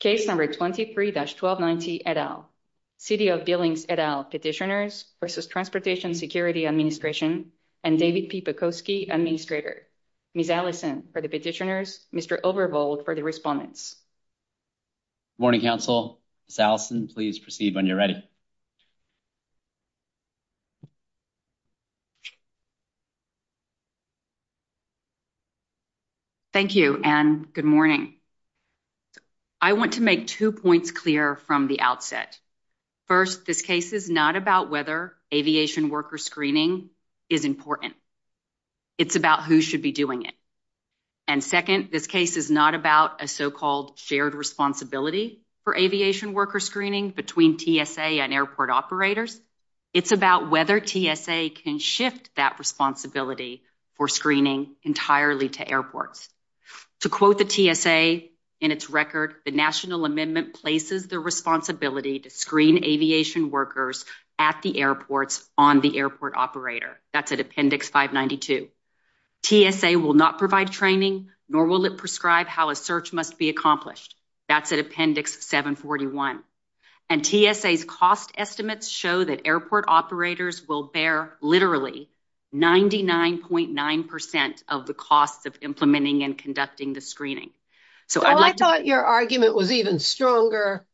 Case number 23-1290 et al. City of Billings et al Petitioners v. Transportation Security Administration and David P. Bukowski, Administrator. Ms. Allison for the Petitioners, Mr. Overbold for the Respondents. Good morning, Council. Ms. Allison, please proceed when you're ready. Thank you, and good morning. I want to make two points clear from the outset. First, this case is not about whether aviation worker screening is important. It's about who should be doing it. And second, this case is not about a so-called shared responsibility for aviation worker screening between TSA and airport operators. It's about whether TSA can shift that responsibility for screening entirely to airports. To quote the TSA in its record, the National Amendment places the responsibility to screen aviation workers at the airports on the airport operator. That's at Appendix 592. TSA will not provide training nor will it prescribe how a search must be accomplished. That's at Appendix 741. And TSA's cost estimates show that airport operators will bear literally 99.9% of the cost of implementing and conducting the screening. Well, I thought your argument was even stronger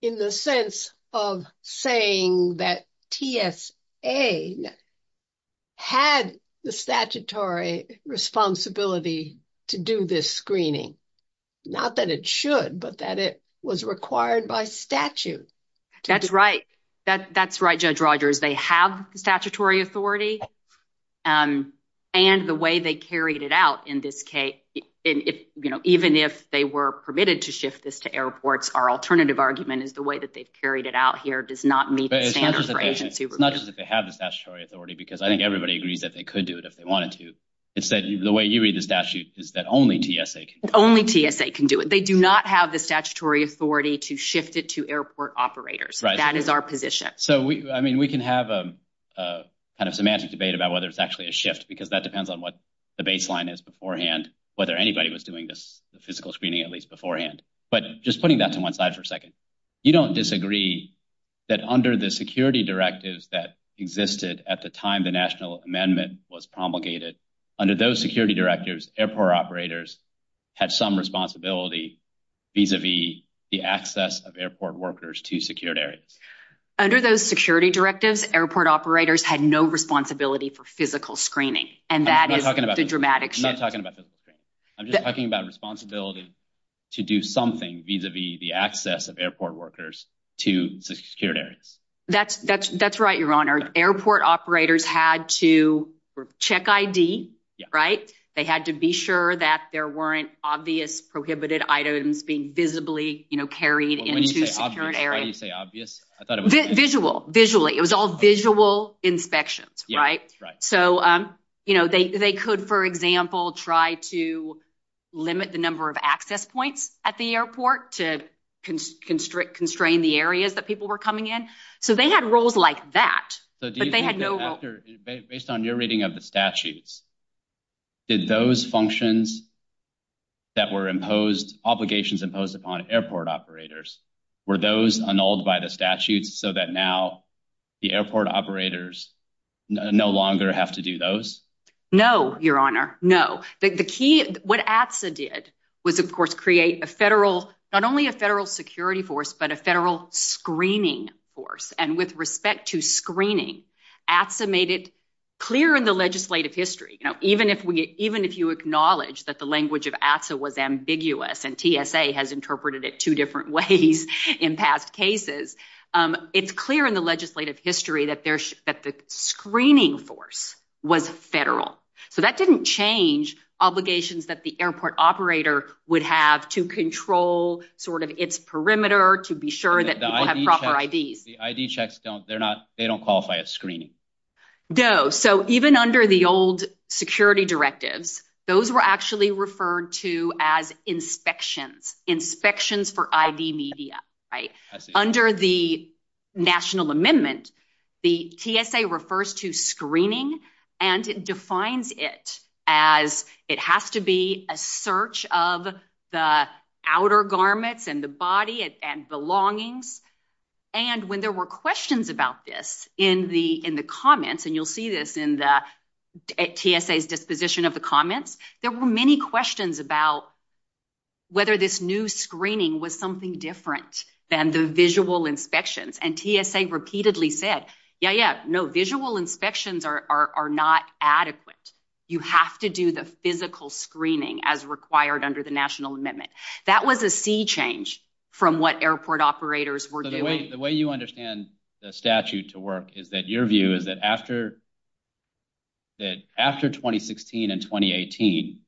in the sense of saying that TSA had the statutory responsibility to do this screening. Not that it should, but that it was required by statute. That's right. That's right, Judge Rogers. They have statutory authority, and the way they carried it out in this case, even if they were permitted to shift this to airports, our alternative argument is the way that they've carried it out here does not meet the standards for agency review. Not just that they have the statutory authority, because I think everybody agreed that they could do it if they wanted to. Instead, the way you read the statute is that only TSA can do it. Only TSA can do it. They do not have the statutory authority to shift it to airport operators. That is our position. So, I mean, we can have a kind of semantic debate about whether it's actually a shift, because that depends on what the baseline is beforehand, whether anybody was doing this physical screening, at least beforehand. But just putting that to one side for a second, you don't disagree that under the security directives that existed at the time the National Amendment was promulgated, under those security directives, airport operators had some responsibility vis-a-vis the access of airport workers to secured areas? Under those security directives, airport operators had no responsibility for physical screening, and that is the dramatic shift. I'm not talking about physical screening. I'm just talking about responsibility to do something vis-a-vis the access of airport workers to secured areas. That's right, Your Honor. Airport operators had to check ID, right? They had to be sure that there weren't obvious prohibited items being visibly carried into secured areas. When you say obvious, how do you say obvious? I thought it meant— Visual, visually. It was all visual inspections, right? Yeah, that's right. So, you know, they could, for example, try to limit the number of access points at the airport to constrain the areas that people were coming in. So they had rules like that. Based on your reading of the statutes, did those functions that were imposed, obligations imposed upon airport operators, were those annulled by the statutes so that now the airport operators no longer have to do those? No, Your Honor. No. What ATSA did was, of course, create a federal, not only a federal security force, but a federal screening force. And with respect to screening, ATSA made it clear in the legislative history, you know, even if you acknowledge that the language of ATSA was ambiguous and TSA has interpreted it two different ways in past cases, it's clear in the legislative history that the screening force was federal. So that didn't change obligations that the airport operator would have to control sort of its perimeter to be sure that people have proper IDs. The ID checks, they don't qualify as screening. No. So even under the old security directives, those were actually referred to as inspections, inspections for ID media, right? Under the national amendment, the TSA refers to screening and it defines it as it has to be a search of the outer garments and the body and belongings. And when there were questions about this in the comments, and you'll see this in the TSA's disposition of the comments, there were many questions about whether this new screening was something different than the visual inspections. And TSA repeatedly said, yeah, yeah, no visual inspections are not adequate. You have to do the physical screening as required under the national amendment. That was a sea change from what airport operators were doing. The way you understand the statute to work is that your view is that after 2016 and 2018,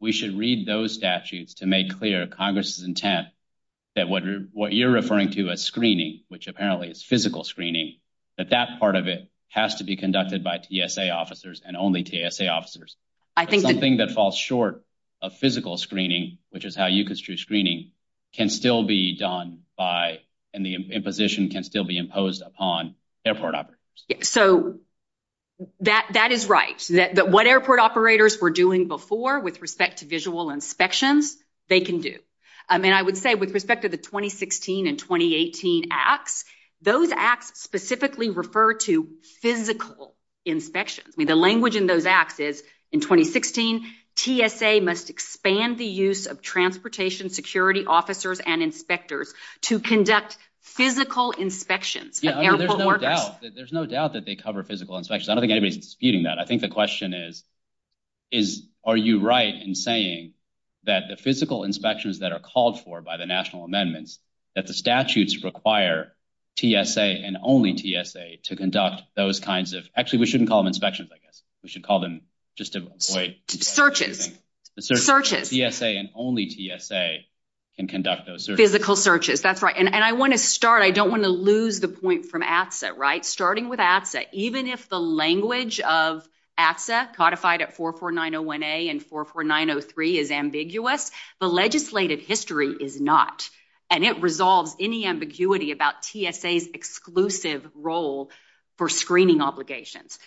we should read those statutes to make clear Congress's intent that what you're referring to as screening, which apparently is physical screening, that that part of it has to be conducted by TSA officers and only TSA officers. Something that falls short of physical screening, which is how you construe screening can still be done by, and the imposition can be imposed upon airport operators. So, that is right. What airport operators were doing before with respect to visual inspections, they can do. And I would say with respect to the 2016 and 2018 acts, those acts specifically refer to physical inspection. The language in those acts is in 2016, TSA must expand the use of transportation security officers and inspectors to conduct physical inspections. There's no doubt that they cover physical inspections. I don't think anybody's disputing that. I think the question is, are you right in saying that the physical inspections that are called for by the national amendments, that the statutes require TSA and only TSA to conduct those kinds of, actually, we shouldn't call them inspections, I guess. We should call them just to avoid- Searches. Searches. TSA and only TSA can conduct those searches. Physical searches, that's right. And I want to start, I don't want to lose the point from AFSA, right? Starting with AFSA, even if the language of AFSA codified at 44901A and 44903 is ambiguous, the legislative history is not. And it resolves any ambiguity about TSA's exclusive role for screening obligations.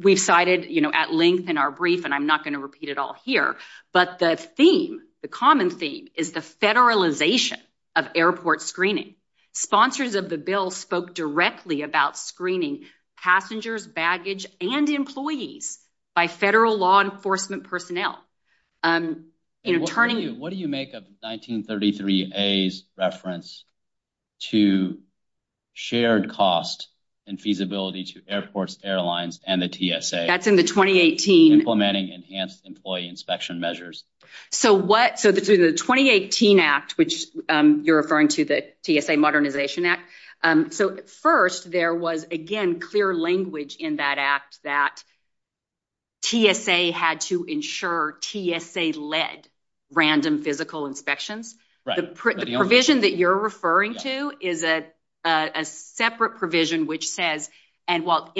We've cited at length in our brief, and I'm not going to repeat it all here, but the theme, the common theme, is the federalization of airport screening. Sponsors of the bill spoke directly about screening passengers, baggage, and employees by federal law enforcement personnel. What do you make of 1933A's reference to shared cost and feasibility to airports, airlines, and the TSA? That's in the 2018- Implementing enhanced employee inspection measures. So what, so this is a 2018 act, which you're referring to the TSA Modernization Act. So first, there was, again, clear language in that act that TSA had to ensure TSA-led random physical inspections. The provision that you're referring to is a separate provision which says, and well,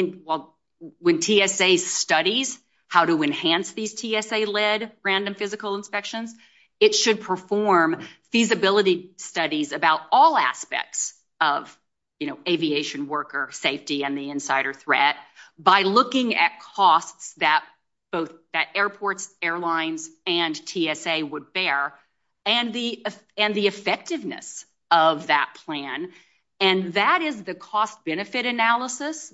when TSA studies how to enhance these TSA-led random physical inspections, it should perform feasibility studies about all aspects of, you know, aviation worker safety and the insider threat by looking at costs that both, that airports, airlines, and TSA would bear, and the effectiveness of that plan. And that is the cost-benefit analysis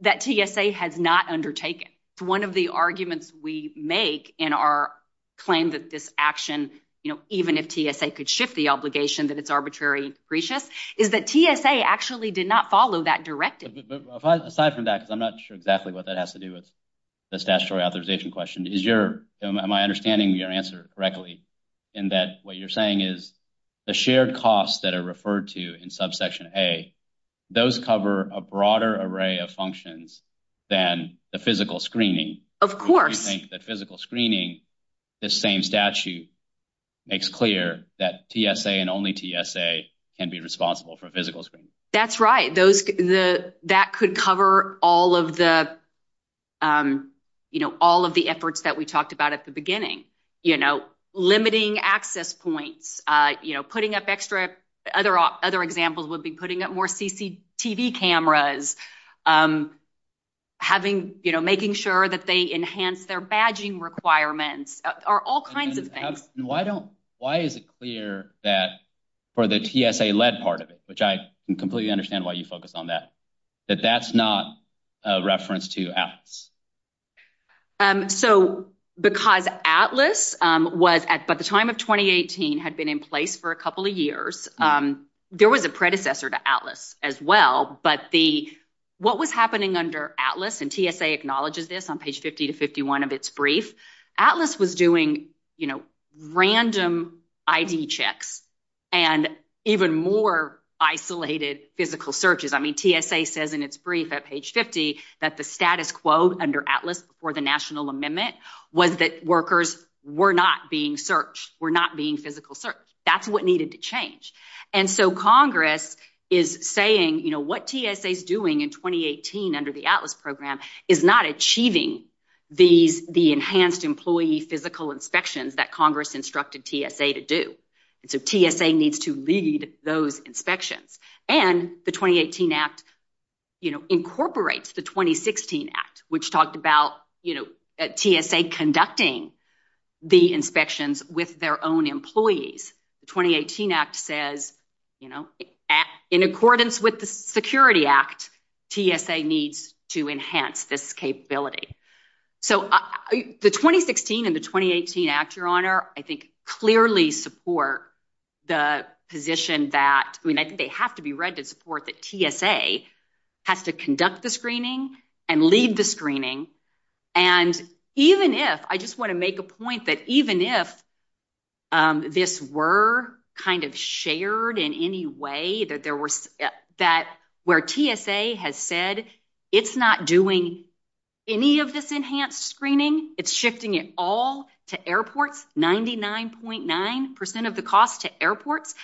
that TSA has not undertaken. One of the arguments we make in our claim that this action, you know, even if TSA could shift the obligation that it's arbitrary, is that TSA actually did not follow that directive. Aside from that, I'm not sure exactly what that has to do with the statutory authorization question. Is your, am I understanding your answer correctly in that what you're saying is the shared costs that are referred to in subsection A, those cover a broader array of functions than the physical screening? Of course. Do you think that physical screening, this same statute, makes clear that TSA and only TSA can be responsible for physical screening? That's right. The, that could cover all of the, you know, all of the efforts that we talked about at the beginning. You know, limiting access points, you know, putting up extra, other examples would be putting up more CCTV cameras, having, you know, making sure that they enhance their badging requirements, are all kinds of things. Why don't, why is it clear that for the TSA-led part of it, which I completely understand why you focus on that, that that's not a reference to ATLAS? So, because ATLAS was, at the time of 2018, had been in place for a couple of years, there was a predecessor to ATLAS as well, but the, what was happening under ATLAS, and TSA acknowledges this on page 50 to 51 of its brief, ATLAS was doing, you know, random ID checks, and even more isolated physical searches. I mean, TSA says in its brief at page 50, that the status quo under ATLAS for the national amendment was that workers were not being searched, were not being physical searched. That's what needed to change. And so, Congress is saying, you know, what TSA is doing in 2018 under the ATLAS program is not achieving these, the enhanced employee physical inspections that Congress instructed TSA to do. So, TSA needs to lead those inspections. And the 2018 act, you know, incorporates the 2016 act, which talked about, you know, TSA conducting the inspections with their own employees. The 2018 act says, you know, in accordance with the security act, TSA needs to enhance this capability. So, the 2016 and the 2018 act, your honor, I think clearly support the position that, I mean, I think they have to be read to support that TSA has to conduct the screening and lead the screening. And even if, I just want to make a point that even if this were kind of shared in any way that there were, that where TSA has said, it's not doing any of this enhanced screening, it's shifting it all to airports, 99.9% of the cost to airports,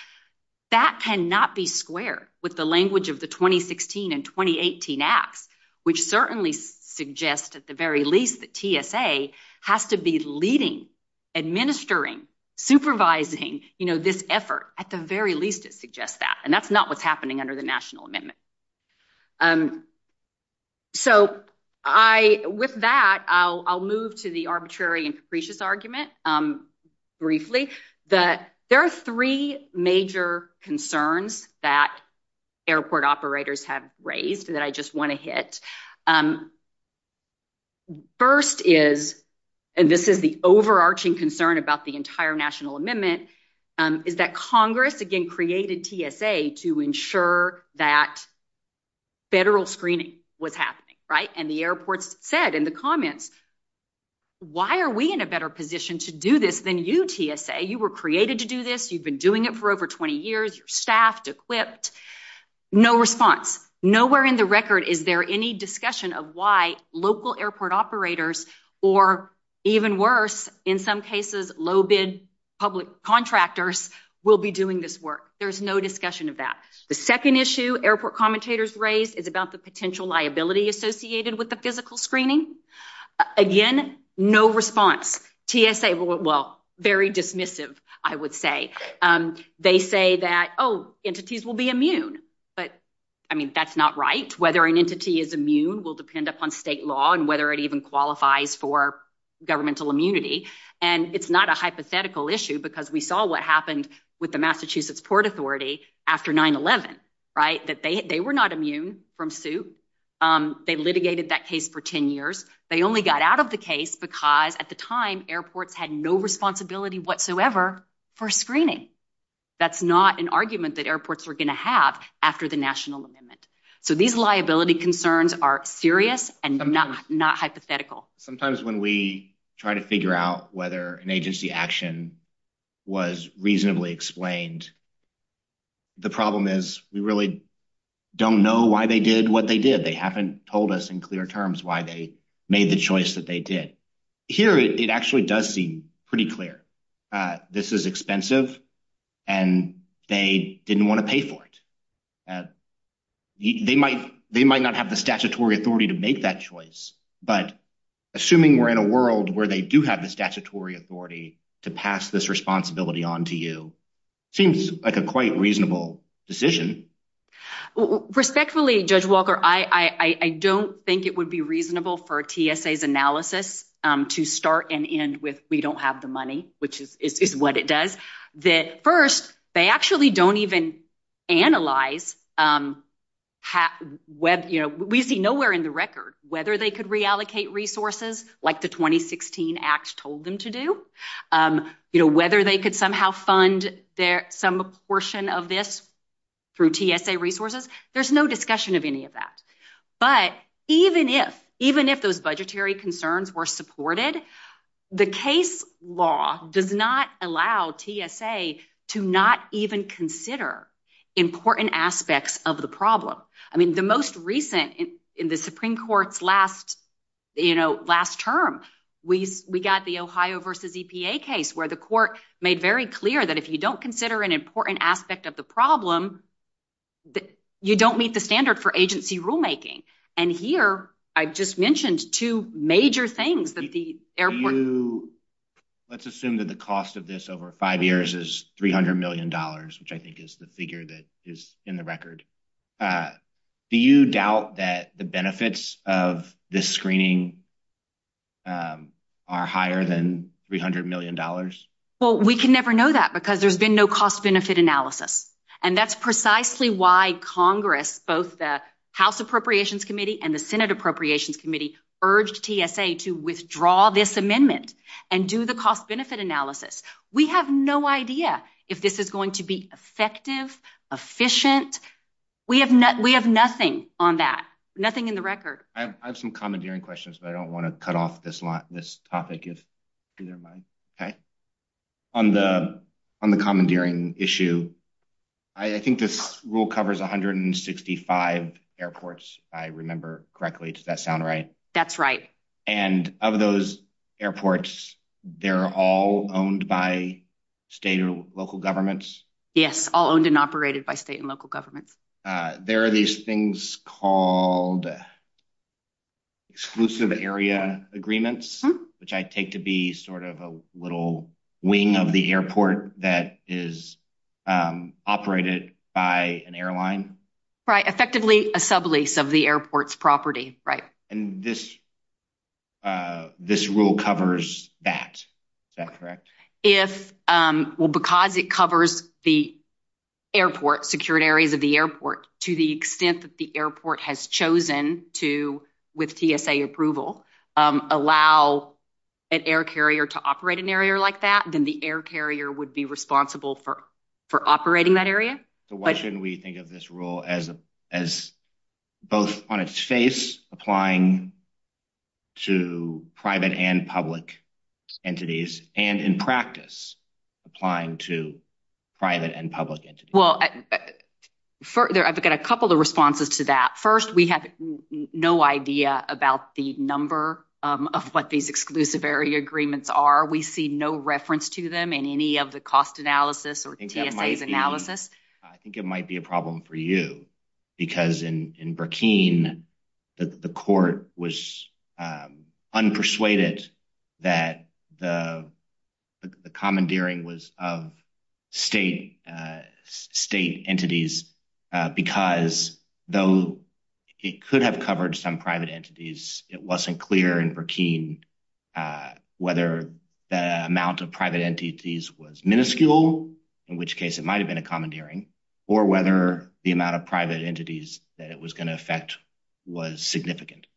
that cannot be square with the language of the 2016 and 2018 act, which certainly suggests at the very least that TSA has to be leading, administering, supervising, you know, this effort. At the very least, it suggests that, and that's not what's happening under the national amendment. So, I, with that, I'll move to the arbitrary and capricious argument briefly, that there are three major concerns that airport operators have raised that I just want to hit. First is, and this is the overarching concern about the entire national amendment, is that Congress, again, created TSA to ensure that federal screening was happening, right? And the airport said in the comments, why are we in a better position to do this than you, TSA? You were created to do this. You've been doing it for over 20 years. You're staffed, equipped. No response. Nowhere in the record is there any discussion of why local airport operators, or even worse, in some cases, low bid public contractors will be doing this work. There's no discussion of that. The second issue airport commentators raised is about the potential liability associated with the physical screening. Again, no response. TSA, well, very dismissive, I would say. They say that, oh, entities will be immune. But, I mean, that's not right. Whether an entity is immune will depend upon state law and whether it even qualifies for governmental immunity. And it's not a hypothetical issue because we saw what happened with the Massachusetts Port Authority after 9-11, right? That they were not immune from suit. They litigated that case for 10 years. They only got out of the case because, at the time, airports had no responsibility whatsoever for screening. That's not an argument that airports were going to have after the national amendment. So, these liability concerns are serious and not hypothetical. Sometimes when we try to figure out whether an agency action was reasonably explained, the problem is we really don't know why they did what they did. They haven't told us in clear terms why they made the choice that they did. Here, it actually does seem pretty clear. This is expensive and they didn't want to pay for it. They might not have the statutory authority to make that choice, but assuming we're in a world where they do have the statutory authority to pass this responsibility on to you, it seems like a quite reasonable decision. Respectfully, Judge Walker, I don't think it would be reasonable for TSA's analysis to start and end with, we don't have the money, which is what it does. First, they actually don't even analyze. We see nowhere in the record whether they could reallocate resources like the 2016 Act told them to do, whether they could somehow fund some portion of this through TSA resources. There's no discussion of any of that. Even if those budgetary concerns were supported, the case law does not allow TSA to not even consider important aspects of the problem. The most recent in the Supreme Court's last term, we got the Ohio v. EPA case where the court made very clear that if you don't consider an important aspect of the problem, you don't meet the standard for agency rulemaking. Here, I've just mentioned two major things that the airport... Let's assume that the cost of this over five years is $300 million, which I think is the figure that is in the record. Do you doubt that the benefits of this screening are higher than $300 million? Well, we can never know that because there's been no cost-benefit analysis. That's precisely why Congress, both the House Appropriations Committee and the Senate Appropriations Committee urged TSA to withdraw this amendment and do the cost-benefit analysis. We have no idea if this is going to be effective, efficient. We have nothing on that, nothing in the record. I have some commandeering questions, but I don't want to cut off this topic. On the commandeering issue, I think this rule covers 165 airports, if I remember correctly. Does that sound right? That's right. Of those airports, they're all owned by state and local governments? Yes, all owned and operated by state and local governments. There are these things called exclusive area agreements, which I take to be a little wing of the airport that is operated by an airline. Right. Effectively, a sublease of the airport's property. Right. This rule covers that. Is that correct? Because it covers the airport, secured areas of the airport, to the extent that the airport has chosen to, with TSA approval, allow an air carrier to operate an area like that, then the air carrier would be responsible for operating that area. Why shouldn't we think of this rule as both on its face, applying to private and public entities, and in practice, applying to private and public entities? Well, I've got a couple of responses to that. First, we have no idea about the number of what these exclusive area agreements are. We see no reference to them in any of the cost analysis or TSA's analysis. I think it might be a problem for you, because in Burkine, the court was unpersuaded that the commandeering was of state entities, because though it could have covered some private entities, it wasn't clear in Burkine whether the amount of private entities was minuscule, in which case it might have been a commandeering, or whether the amount of private entities that it was going to affect was significant.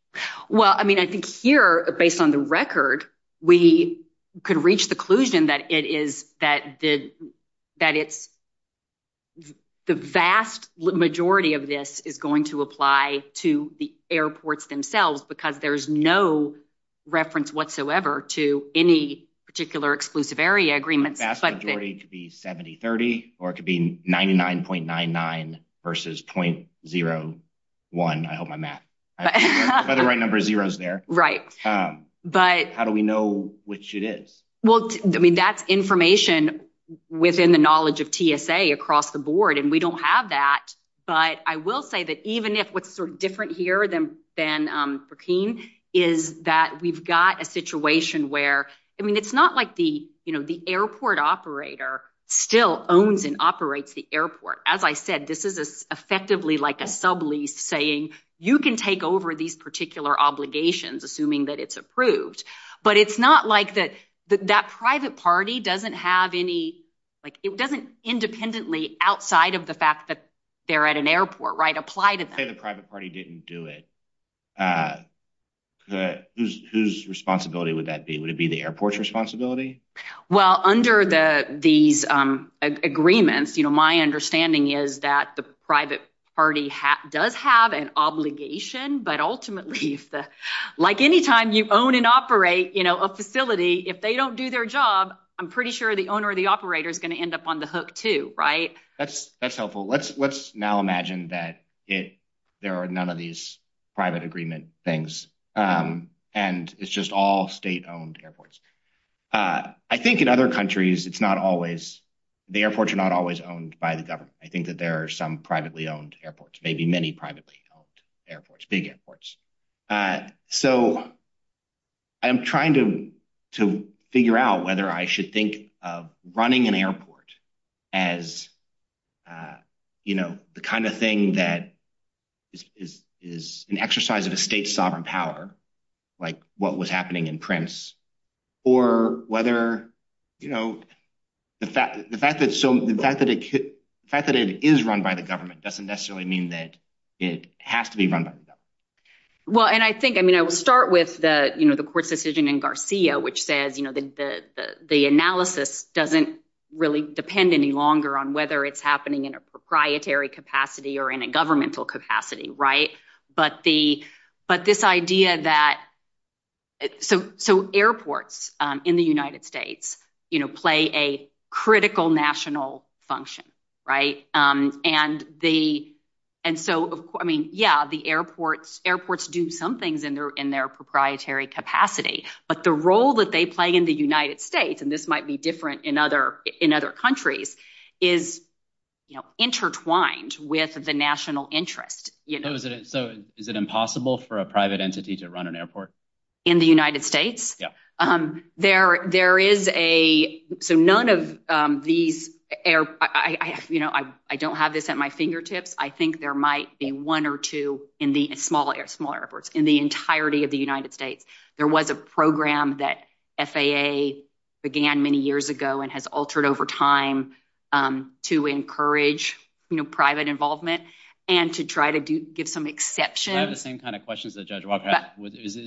Well, I mean, I think here, based on the record, we could reach the conclusion that the vast majority of this is going to apply to the airports themselves, because there's no reference whatsoever to any particular exclusive area agreement. The vast majority could be 70-30, or it could be 99.99 versus 0.01. I hope I'm not right number zeros there. Right. How do we know which it is? Well, I mean, that's information within the knowledge of TSA across the board, and we don't have that. But I will say that even if what's sort of different here than Burkine is that we've got a situation where, I mean, it's not like the airport operator still owns and operates the airport. As I said, this is effectively like a saying, you can take over these particular obligations, assuming that it's approved. But it's not like that private party doesn't have any... It doesn't independently, outside of the fact that they're at an airport, apply to them. Say the private party didn't do it, whose responsibility would that be? Would it be the airport's responsibility? Well, under these agreements, my understanding is that the private party does have an obligation, but ultimately, like anytime you own and operate a facility, if they don't do their job, I'm pretty sure the owner of the operator is going to end up on the hook too, right? That's helpful. Let's now imagine that there are none of these private agreement things, and it's just all state-owned airports. I think in other countries, it's not always... The airports are not always owned by the government. I think that there are some privately owned airports, maybe many privately owned airports, big airports. So I'm trying to figure out whether I should think of running an airport as the kind of thing that is an exercise of a state sovereign power, like what was happening in Prince or whether... The fact that it is run by the government doesn't necessarily mean that it has to be run by the government. Well, and I think... I mean, I would start with the court decision in Garcia, which says the analysis doesn't really depend any longer on whether it's happening in a proprietary capacity or in a governmental capacity, right? But this idea that... So airports in the United States play a critical national function, right? And so, I mean, yeah, the airports do some things in their proprietary capacity, but the role that they play in the United States, and this might be different in other countries, is intertwined with the national interest. So is it impossible for a private entity to run an airport? In the United States? Yeah. There is a... So none of these... I don't have this at my fingertips. I think there might be one or two in small airports, in the entirety of the United States. There was a program that FAA began many years ago and has altered over time to encourage private involvement and to try to give some exceptions. I have the same kind of questions that Judge Walker asked.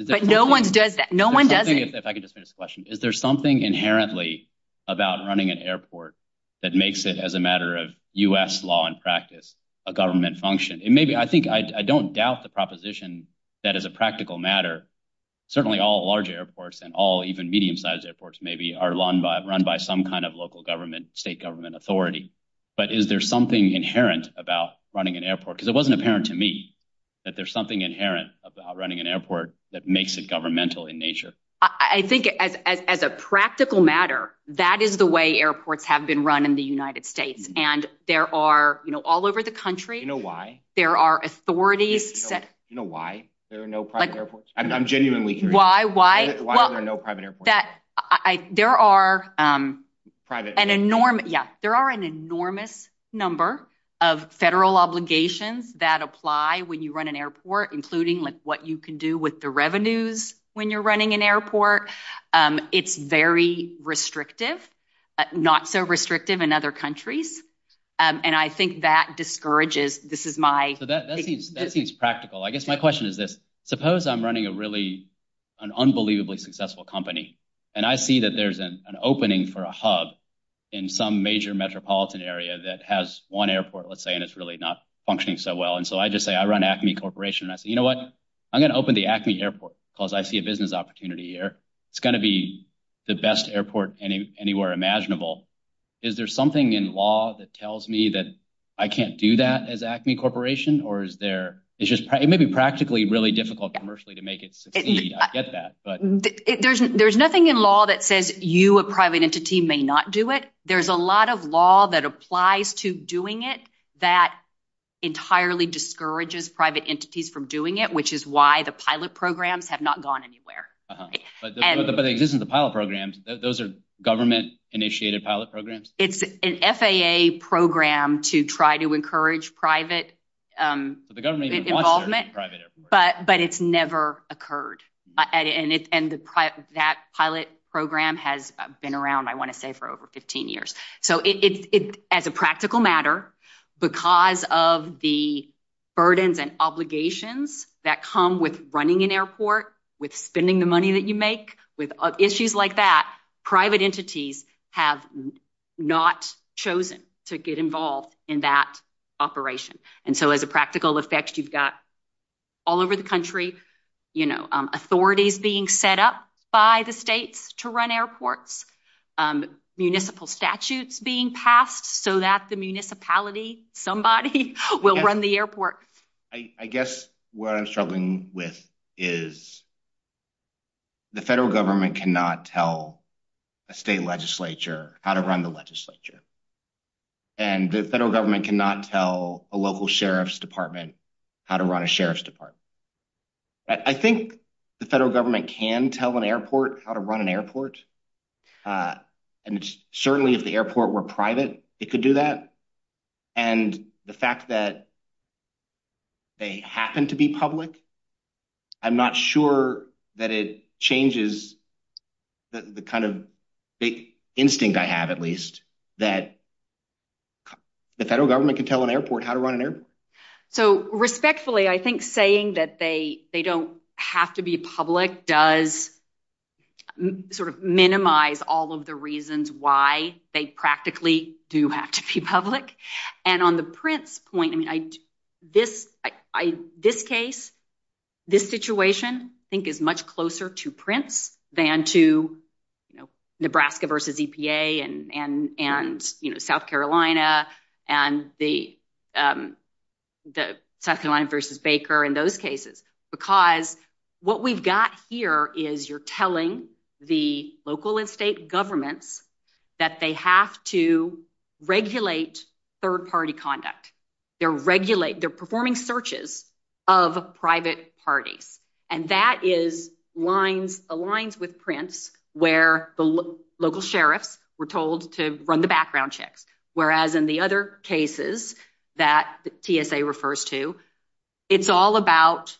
But no one does that. No one does it. I think, if I could just finish the question, is there something inherently about running an airport that makes it, as a matter of U.S. law and practice, a government function? And maybe... I think... I don't doubt the proposition that, as a practical matter, certainly all large airports and all even medium-sized airports, maybe, are run by some kind of local government, state government authority. But is there something inherent about running an airport? Because it wasn't apparent to me that there's something inherent about running an airport that makes it governmental in nature. I think, as a practical matter, that is the way airports have been run in the United States. And there are, all over the country... You know why? There are authorities that... You know why there are no private airports? I'm genuinely curious. Why? Why? Why are there no private airports? There are an enormous number of federal obligations that apply when you run an airport, including what you can do with the revenues when you're running an airport. It's very restrictive, not so restrictive in other countries. And I think that discourages... This is my... So that seems practical. I guess my question is this. Suppose I'm running a really... an unbelievably successful company, and I see that there's an opening for a hub in some major metropolitan area that has one airport, let's say, and it's really not functioning so well. And so I just say, I run Acme Corporation. And I say, you know what? I'm going to open the Acme Airport because I see a business opportunity here. It's going to be the best airport anywhere imaginable. Is there something in law that tells me that I can't do that as Acme Corporation? Or is there... It may be practically really difficult commercially to make it succeed. I get that, but... There's nothing in law that says you, a private entity, may not do it. There's a lot of law that applies to doing it that entirely discourages private entities from doing it, which is why the pilot programs have not gone anywhere. But it isn't the pilot programs. Those are government-initiated pilot programs? It's an FAA program to try to encourage private involvement, but it's never occurred. And that pilot program has been around, I want to say, for over 15 years. So as a practical matter, because of the burdens and obligations that come with running an airport, with spending the money that you make, with issues like that, private entities have not chosen to get involved in that operation. And so as a practical effect, you've got all over the country, authorities being set up by the states to run airports, municipal statutes being passed so that the municipality, somebody, will run the airport. I guess what I'm struggling with is the federal government cannot tell a state legislature how to run the legislature. And the federal government cannot tell a local sheriff's department how to run a sheriff's department. I think the federal government can tell an airport how to do that. And the fact that they happen to be public, I'm not sure that it changes the kind of big instinct I have, at least, that the federal government can tell an airport how to run an airport. So respectfully, I think saying that they don't have to be public does sort of minimize all of the reasons why they practically do have to be public. And on the Prince point, this case, this situation, I think is much closer to Prince than to Nebraska versus EPA and South Carolina and the South Carolina versus Baker and those cases. Because what we've got here is you're telling the local and state governments that they have to regulate third-party conduct. They're performing searches of private parties. And that aligns with Prince where the local sheriffs were told to run the background checks. Whereas in the other cases that TSA refers to, it's all about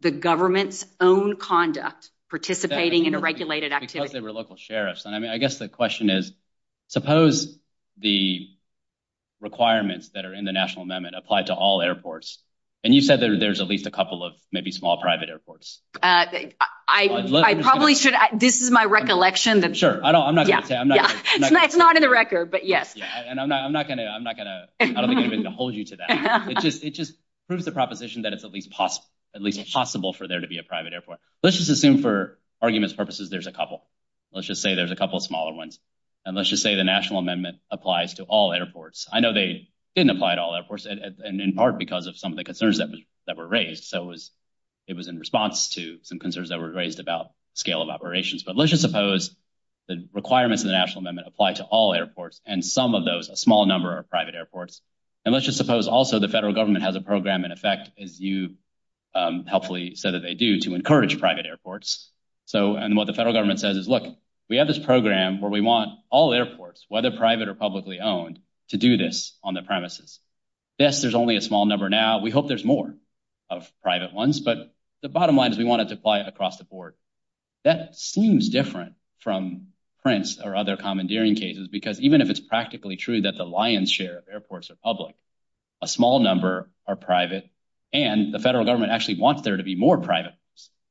the government's own conduct participating in a regulated activity. Because they were local sheriffs. I mean, I guess the question is, suppose the requirements that are in the National Amendment apply to all airports. And you said that there's at least a couple of maybe small private airports. I probably should, this is my recollection. Sure. I'm not going to say. It's not in the record, but yes. And I'm not going to hold you to that. It just proves the proposition that it's at least possible for there to be a private airport. Let's just assume for arguments purposes, there's a couple. Let's just say there's a couple of smaller ones. And let's just say the National Amendment applies to all airports. I know they didn't apply to all airports and in part because of some of the concerns that were raised. So it was in response to some concerns that were raised about scale of operations. But let's just suppose the requirements of the National Amendment apply to all airports and some of those, a small number of private airports. And let's just suppose also the federal government has a program in effect, as you helpfully said that they do, to encourage private airports. And what the federal government says is, look, we have this program where we want all airports, whether private or publicly owned, to do this on the premises. Yes, there's only a small number now. We hope there's more of private ones. But the bottom line is we want it to apply across the board. That seems different from Prince or other commandeering cases, because even if it's practically true that the lion's share of airports are public, a small number are private, and the federal government actually wants there to be more private.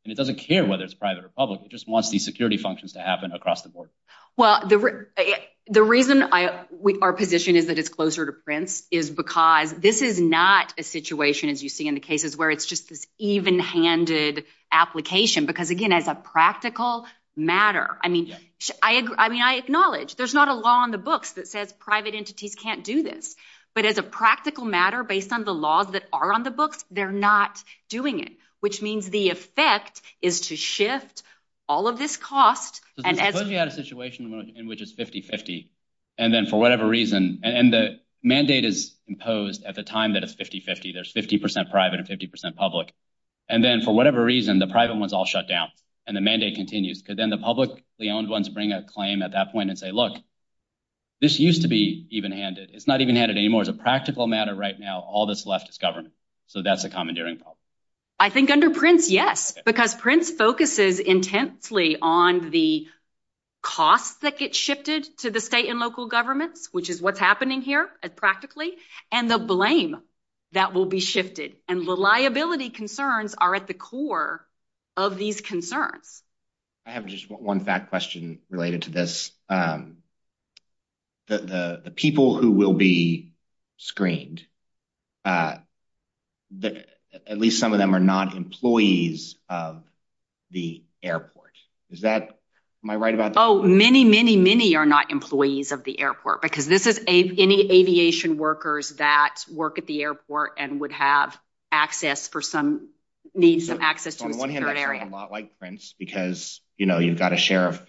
And it doesn't care whether it's private or public. It just wants these security functions to happen across the board. Well, the reason our position is that it's closer to Prince is because this is not a situation, as you see in the cases, where it's just this even-handed application. Because again, as a practical matter, I mean, I acknowledge there's not a law on the books that says private entities can't do this. But as a practical matter, based on the laws that are on the books, they're not doing it, which means the effect is to shift all of this cost. So suppose you had a situation in which it's 50-50, and then for whatever reason, and the mandate is imposed at the time that it's 50-50, there's 50% private and 50% public. And then for whatever reason, the private ones all shut down, and the mandate continues, because then the publicly-owned ones bring a claim at that point and say, look, this used to be even-handed. It's not even-handed anymore. As a practical matter right now, all that's left is government. So that's a commandeering problem. I think under Prince, yes, because Prince focuses intensely on the cost that gets shifted to the state and local governments, which is what's happening here practically, and the blame that will be shifted. And reliability concerns are at the core of these concerns. I have just one fact question related to this. The people who will be screened, at least some of them are not employees of the airport. Is that my right about this? Oh, many, many, many are not employees of the airport, because this is any aviation workers that work at the airport and would have access for some... On the one hand, I feel a lot like Prince, because you've got a sheriff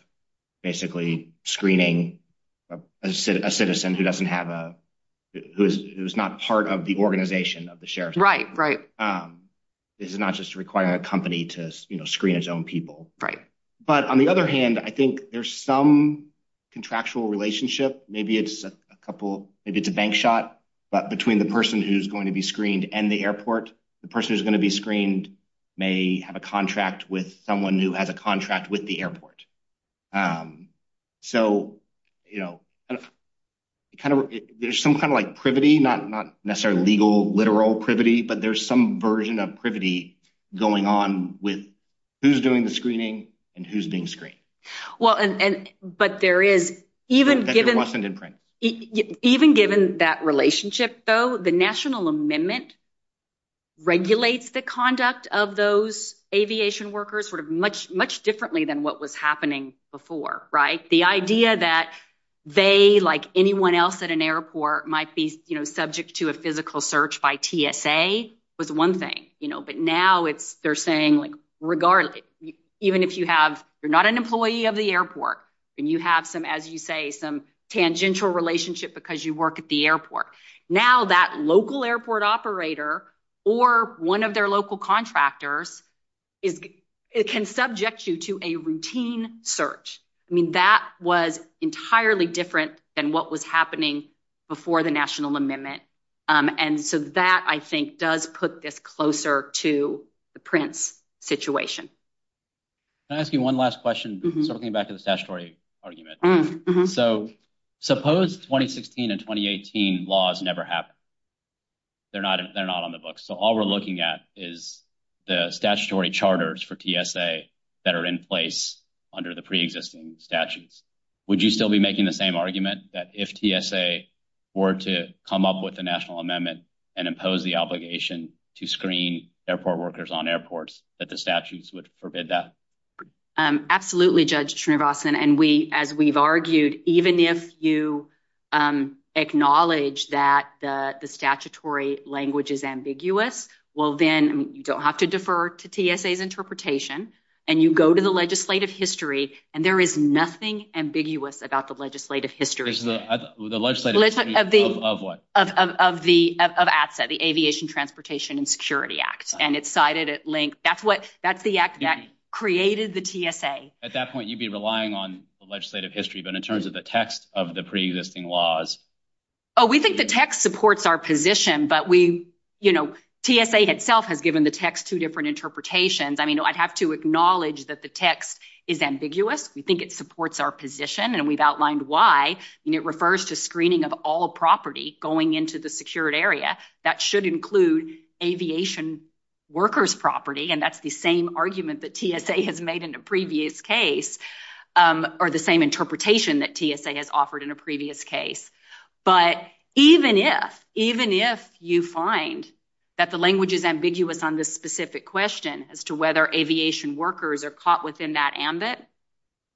basically screening a citizen who's not part of the organization of the sheriff's department. This is not just requiring a company to screen its own people. But on the other hand, I think there's some contractual relationship. Maybe it's a bank shot, but between the person who's going to be screened and the airport, the person who's going to be screened may have a contract with someone who has a contract with the airport. So there's some kind of privity, not necessarily legal, literal privity, but there's some version of privity going on with who's doing the screening and who's being screened. Even given that relationship, though, the National Amendment regulates the conduct of those aviation workers much differently than what was happening before. The idea that they, like anyone else at an airport, might be subject to a physical search by PSA was one thing, but now they're saying regardless, even if you're not an employee of the airport and you have some, as you say, some tangential relationship because you work at the airport, now that local airport operator or one of their local contractors can subject you to a routine search. I mean, that was entirely different than what was happening before the National Amendment. And so that, I think, does put this closer to the Prince situation. Can I ask you one last question? Sort of getting back to the statutory argument. So suppose 2016 and 2018 laws never happened. They're not on the books. So all we're looking at is the statutory charters for TSA that are in place under the pre-existing statutes. Would you still be making the same argument that if TSA were to come up with the National Amendment and impose the obligation to screen airport workers on airports, that the statutes would forbid that? Absolutely, Judge Srinivasan. And we, as we've argued, even if you acknowledge that the statutory language is ambiguous, well then you don't have to defer to TSA's interpretation and you go to the legislative history and there is nothing ambiguous about the legislative history. The legislative history of what? Of ATSA, the Aviation, Transportation, and Security Act. And it's cited at length. That's what, that's the act that created the TSA. At that point, you'd be relying on the legislative history, but in terms of the text of the pre-existing laws. Oh, we think the text supports our position, but we, TSA itself has given the text two different interpretations. I mean, I'd have to acknowledge that the text is ambiguous. We think it supports our position and we've outlined why, and it refers to screening of all property going into the secured area. That should include aviation workers' property, and that's the same argument that TSA has made in a previous case, or the same interpretation that TSA has offered in a previous case. But even if, even if you find that the language is ambiguous on this specific question as to whether aviation workers are caught within that ambit,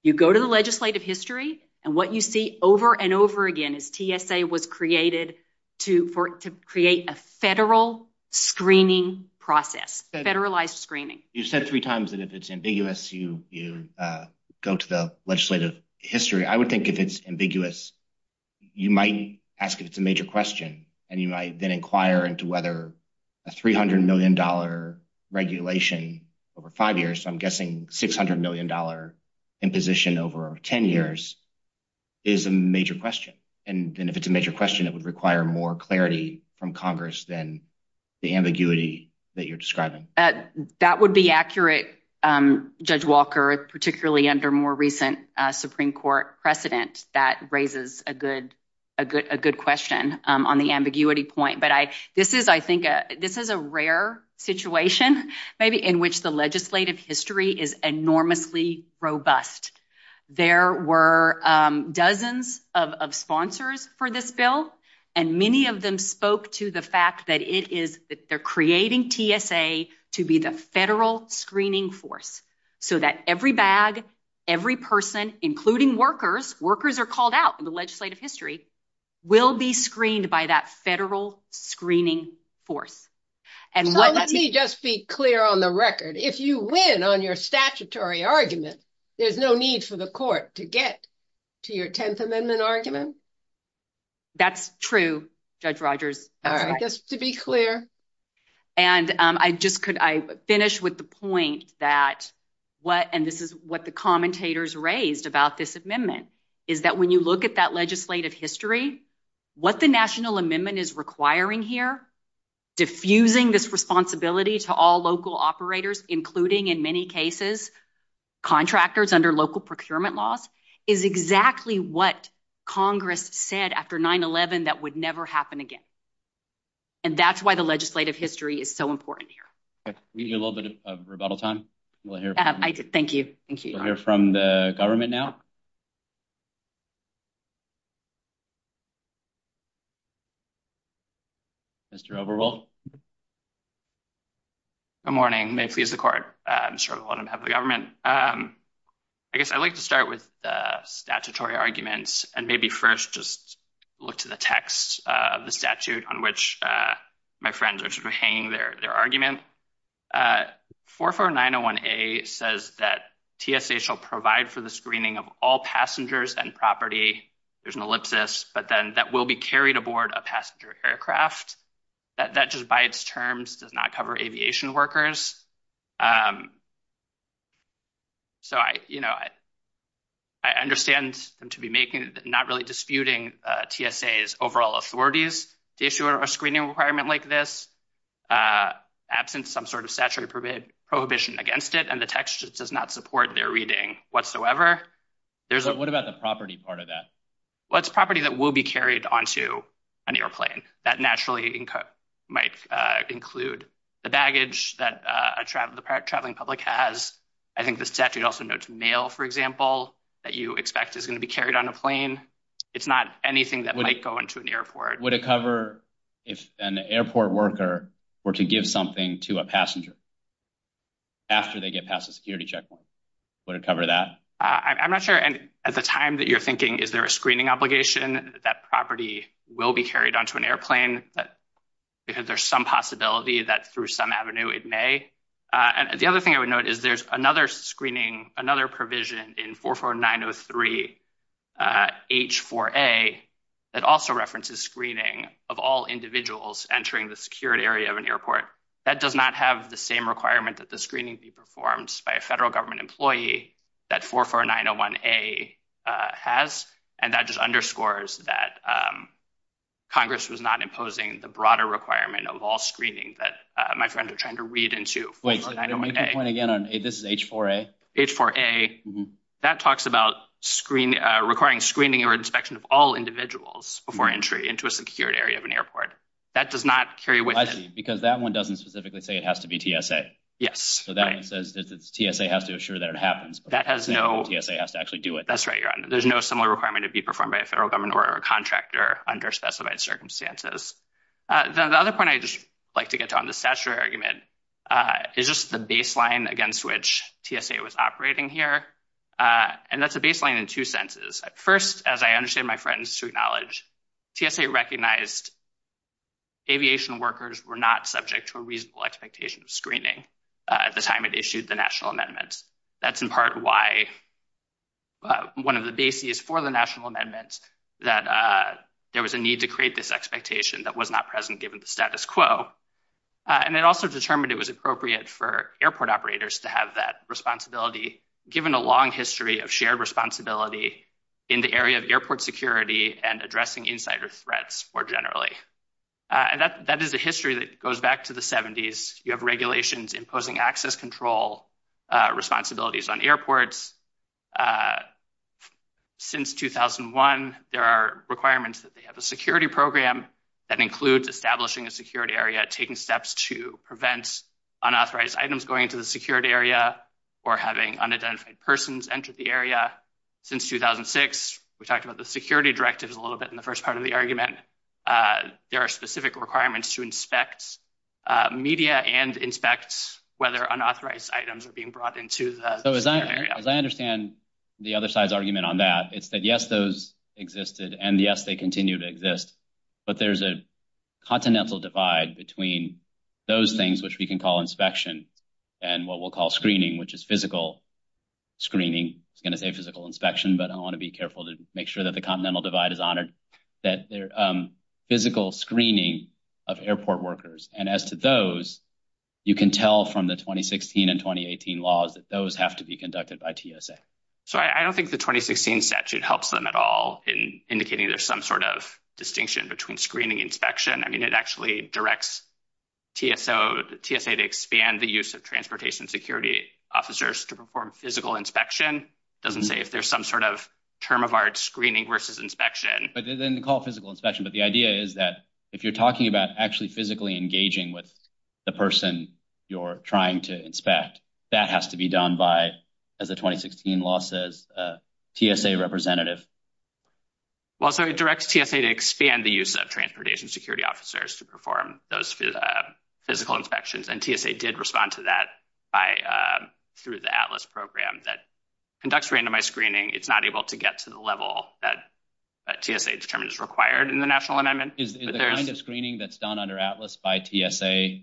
you go to the legislative history and what you see over and over again is TSA was created to create a federal screening process, federalized screening. You said three times that if it's ambiguous, you go to the legislative history. I would think if it's ambiguous, you might ask if it's a major question and you might then inquire into whether a $300 million regulation over five years, I'm guessing $600 million in position over 10 years, is a major question. And if it's a major question, it would require more clarity from Congress than the ambiguity that you're describing. That would be accurate, Judge Walker, particularly under more recent Supreme Court precedent that raises a good question on the this is a rare situation maybe in which the legislative history is enormously robust. There were dozens of sponsors for this bill and many of them spoke to the fact that it is, they're creating TSA to be the federal screening force so that every bag, every person, including workers, workers are called out in the legislative history, will be screened by that federal screening force. Let me just be clear on the record. If you win on your statutory argument, there's no need for the court to get to your 10th Amendment argument? That's true, Judge Rogers. All right, just to be clear. And I just could, I finish with the point that what, and this is what the commentators raised about this amendment, is that when you look at that legislative history, what the national amendment is requiring here, diffusing this responsibility to all local operators, including in many cases, contractors under local procurement laws, is exactly what Congress said after 9-11 that would never happen again. And that's why the legislative history is so important here. All right, we need a little bit of rebuttal time. Thank you. We'll hear from the government now. Mr. Overbold. Good morning. May it please the court. I'm sorry to let him have the government. I guess I'd like to start with statutory arguments and maybe first just look to the text of the amendment. It says that TSA shall provide for the screening of all passengers and property, there's an ellipsis, but then that will be carried aboard a passenger aircraft. That just by its terms does not cover aviation workers. So I, you know, I understand to be making, not really disputing TSA's overall authorities to issue a screening requirement like this, absent some sort of statutory prohibition against it, and the text does not support their reading whatsoever. What about the property part of that? Well, it's property that will be carried onto an airplane. That naturally might include the baggage that the traveling public has. I think the statute also notes mail, for example, that you expect is going to be carried on a plane. It's not anything that might go into an airport. Would it cover if an airport worker were to give something to a passenger after they get past a security checkpoint? Would it cover that? I'm not sure. And at the time that you're thinking, is there a screening obligation that property will be carried onto an airplane? Because there's some possibility that through some avenue it may. The other thing I would note is there's another screening, another provision in 44903 H4A that also references screening of all individuals entering the security area of an airport. That does not have the same requirement that the screening be performed by a federal government employee that 44901A has, and that just underscores that Congress was not imposing the broader requirement of all screening that my friend is trying to read into. Wait, can you make that point again? This is H4A? H4A. That talks about requiring screening or inspection of all individuals before entry into a security area of an airport. That does not carry with it. I see, because that one doesn't specifically say it has to be TSA. Yes. So that one says that the TSA has to assure that it happens. That has no- The TSA has to actually do it. That's right, your honor. There's no similar requirement to be performed by a federal government or a contractor under specified circumstances. The other point I'd just like to get to on this statutory argument is just the baseline against which TSA was operating here, and that's a baseline in two senses. First, as I understand my friends to acknowledge, TSA recognized aviation workers were not subject to a reasonable expectation of screening at the time it issued the national amendment. That's in part why one of the bases for the national amendment that there was a need to create this expectation that was not present given the status quo. It also determined it was appropriate for airport operators to have that responsibility given a long history of shared responsibility in the area of airport security and addressing insider threats more generally. That is a history that goes back to the 70s. You have regulations imposing access control responsibilities on airports. Since 2001, there are requirements that they have a security program that includes establishing a security area, taking steps to prevent unauthorized items going into the security area or having unidentified persons enter the area. Since 2006, we talked about the security directive a little bit in the first part of the argument. There are specific requirements to inspect media and inspect whether unauthorized items are being brought into the area. As I understand the other side's argument on that, it's that yes, those existed and yes, they continue to exist, but there's a continental divide between those things which we can call inspection and what we'll call screening, which is physical screening. I was going to say physical inspection, but I want to be careful to make sure that the continental divide is honored, that physical screening of airport workers. As to those, you can tell from the 2016 and 2018 laws that those have to be conducted by TSA. I don't think the 2016 statute helps them at all in indicating there's some sort of distinction between screening and inspection. I mean, it actually directs TSA to expand the use of transportation security officers to perform physical inspection. It doesn't say if there's some sort of term of art screening versus inspection. It doesn't call physical inspection, but the idea is that if you're talking about actually physically engaging with the person you're trying to inspect, that has to be done by, as the 2016 law says, a TSA representative. Well, sorry, it directs TSA to expand the use of transportation security officers to perform those physical inspections, and TSA did respond to that through the ATLAS program that conducts randomized screening. It's not able to get to the level that TSA determines is required in the national amendment. Is the kind of screening that's done under ATLAS by TSA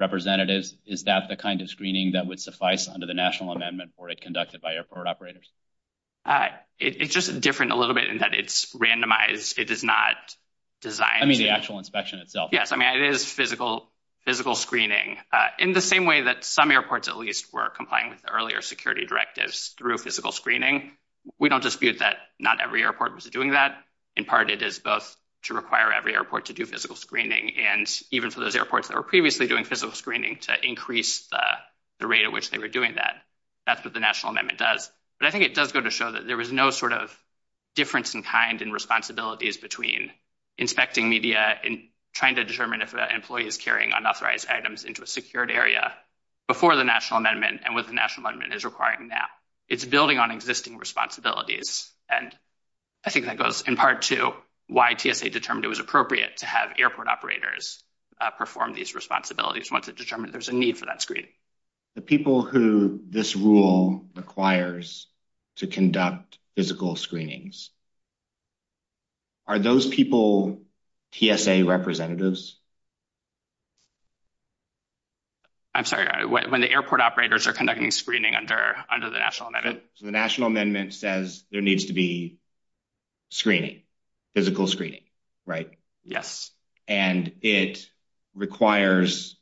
representatives, is that the kind of screening that would suffice under the national amendment for it conducted by airport operators? It's just different a little bit in that it's randomized. It does not design... I mean, the actual inspection itself. Yes. I mean, it is physical screening. In the same way that some airports, at least, were complying with the earlier security directives through physical screening, we don't dispute that not every airport was doing that. In part, it is both to require every airport to do physical screening, and even for those airports that were previously doing physical screening to increase the rate at which they were doing that, that's what the national amendment does. But I think it does go to show that there was no sort of difference in kind and responsibilities between inspecting media and trying to determine if an employee is carrying unauthorized items into a secured area before the national amendment and what the national amendment is requiring now. It's building on existing responsibilities, and I think that goes in part to why TSA determined it was appropriate to have airport operators perform these responsibilities once it determined there's a need for that screening. The people who this rule requires to conduct physical screenings, are those people TSA representatives? I'm sorry, when the airport operators are conducting screening under the national amendment? The national amendment says there needs to be screening, physical screening, right? Yes. And it requires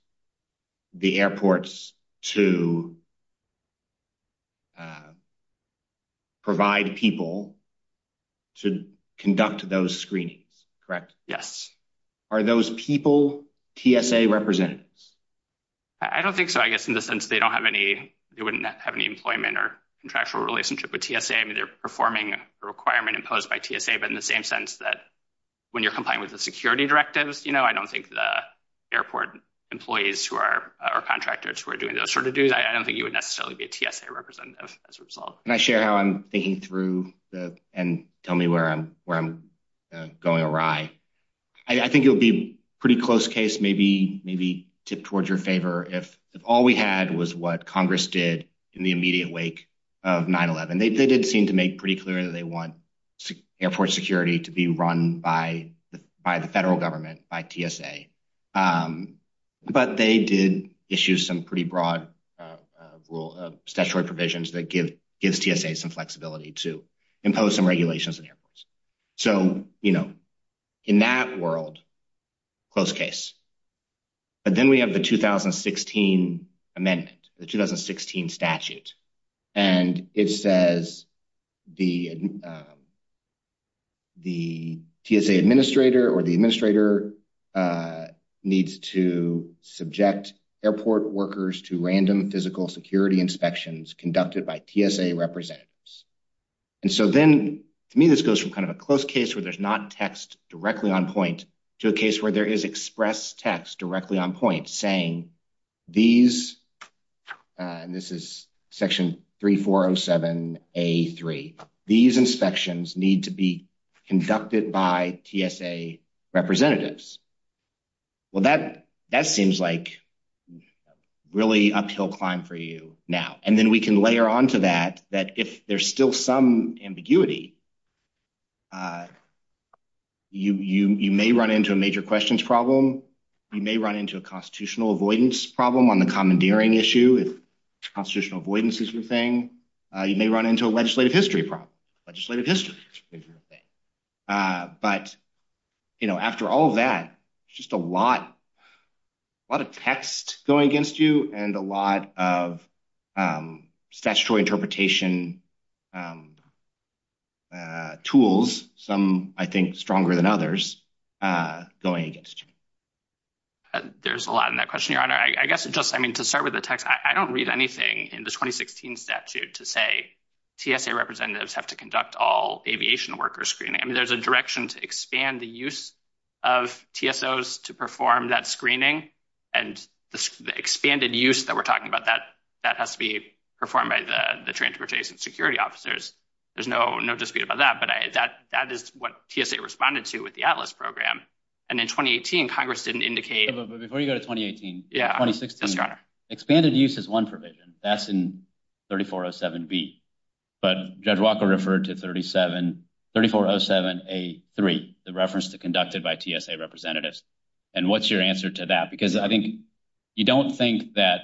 the airports to provide people to conduct those screenings, correct? Yes. Are those people TSA representatives? I don't think so. I guess in the sense they don't have any, they wouldn't have any employment or contractual relationship with TSA. I mean, they're performing a requirement imposed by TSA, but in the same sense that when you're complying with the security directives, you know, I don't think the airport employees who are, or contractors who are doing those sort of duties, I don't think you would necessarily be a TSA representative as a result. Can I share how I'm thinking through and tell me where I'm going awry? I think it would be pretty close case, maybe tip towards your favor, if all we had was what Congress did in the immediate wake of 9-11. They did seem to make pretty clear that they want airport security to be run by the federal government, by TSA, but they did issue some pretty broad statutory provisions that give TSA some flexibility to impose some regulations. So, you know, in that world, close case. But then we have the 2016 amendment, the 2016 statute, and it says the TSA administrator or the administrator needs to subject airport workers to random physical security inspections conducted by TSA representatives. And so then, to me, this goes from kind of a close case where there's not text directly on point to a case where there is express text directly on point saying these, and this is section 3407A3, these inspections need to be conducted by TSA representatives. Well, that seems like really uphill climb for you now. And then we can layer onto that, that if there's still some ambiguity, you may run into a major questions problem. You may run into a constitutional avoidance problem on the commandeering issue. Constitutional avoidance is a good thing. You may run into a legislative history problem. Legislative history is a good thing. But, you know, after all that, it's just a lot, a lot of text going against you and a lot of statutory interpretation tools, some, I think, stronger than others, going against you. There's a lot in that question, Your Honor. I guess it just, I mean, to start with the text, I don't read anything in the 2016 statute to say TSA representatives have to conduct all aviation workers screening. I mean, there's a direction to expand the use of TSOs to perform that screening. And the expanded use that we're talking about, that has to be performed by the security officers. There's no dispute about that. But that is what TSA responded to with the Atlas program. And in 2018, Congress didn't indicate... Before you go to 2018, 2016, expanded use is one provision. That's in 3407B. But Judge Walker referred to 3407A3, the reference to conducted by TSA representatives. And what's your answer to that? Because I think you don't think that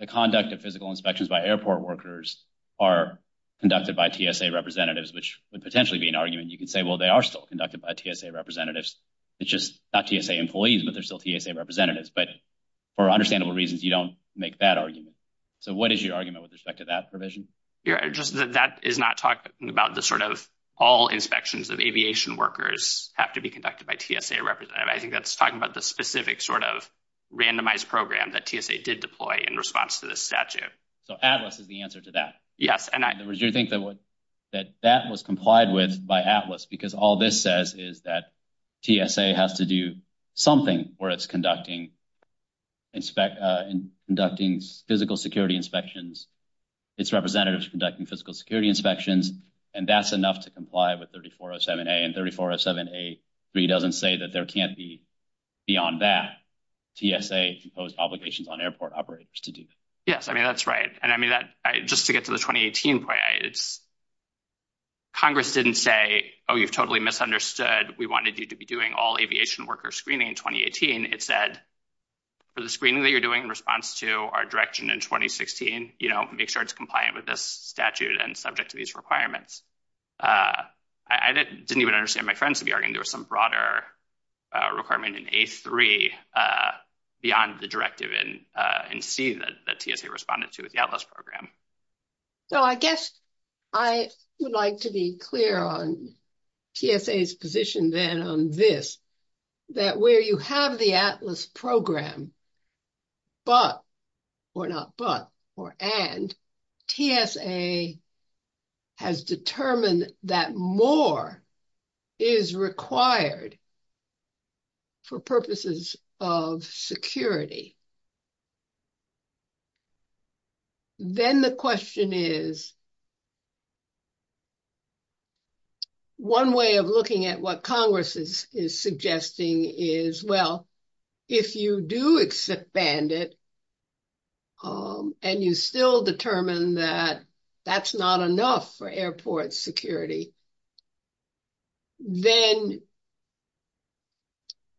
the conduct of physical inspections by airport workers are conducted by TSA representatives, which would potentially be an argument. You can say, well, they are still conducted by TSA representatives. It's just not TSA employees, but they're still TSA representatives. But for understandable reasons, you don't make that argument. So what is your argument with respect to that provision? Your Honor, just that that is not talking about the sort of all inspections of aviation workers have to be conducted by TSA representatives. I think that's talking about the specific sort of randomized program that TSA did deploy in response to this statute. So Atlas is the answer to that? Yes. In other words, you think that that was complied with by Atlas because all this says is that TSA has to do something where it's conducting physical security inspections, its representatives conducting physical security inspections, and that's enough to comply with 3407A. And 3407A-3 doesn't say that there can't be beyond that, TSA can impose obligations on airport operators to do that. Yes. I mean, that's right. And I mean, just to get to the 2018 point, Congress didn't say, oh, you've totally misunderstood. We wanted you to be doing all aviation worker screening in 2018. It said, for the screening that you're doing in response to our direction in 2016, make sure it's compliant with this statute and subject to these requirements. I didn't even understand my friends to be arguing there was some broader requirement in A-3 beyond the directive in C that TSA responded to with the Atlas program. So I guess I would like to be clear on TSA's position then on this, that where you have the program, but, or not but, or and, TSA has determined that more is required for purposes of security. Then the question is, one way of looking at what Congress is suggesting is, well, if you do expand it and you still determine that that's not enough for airport security, then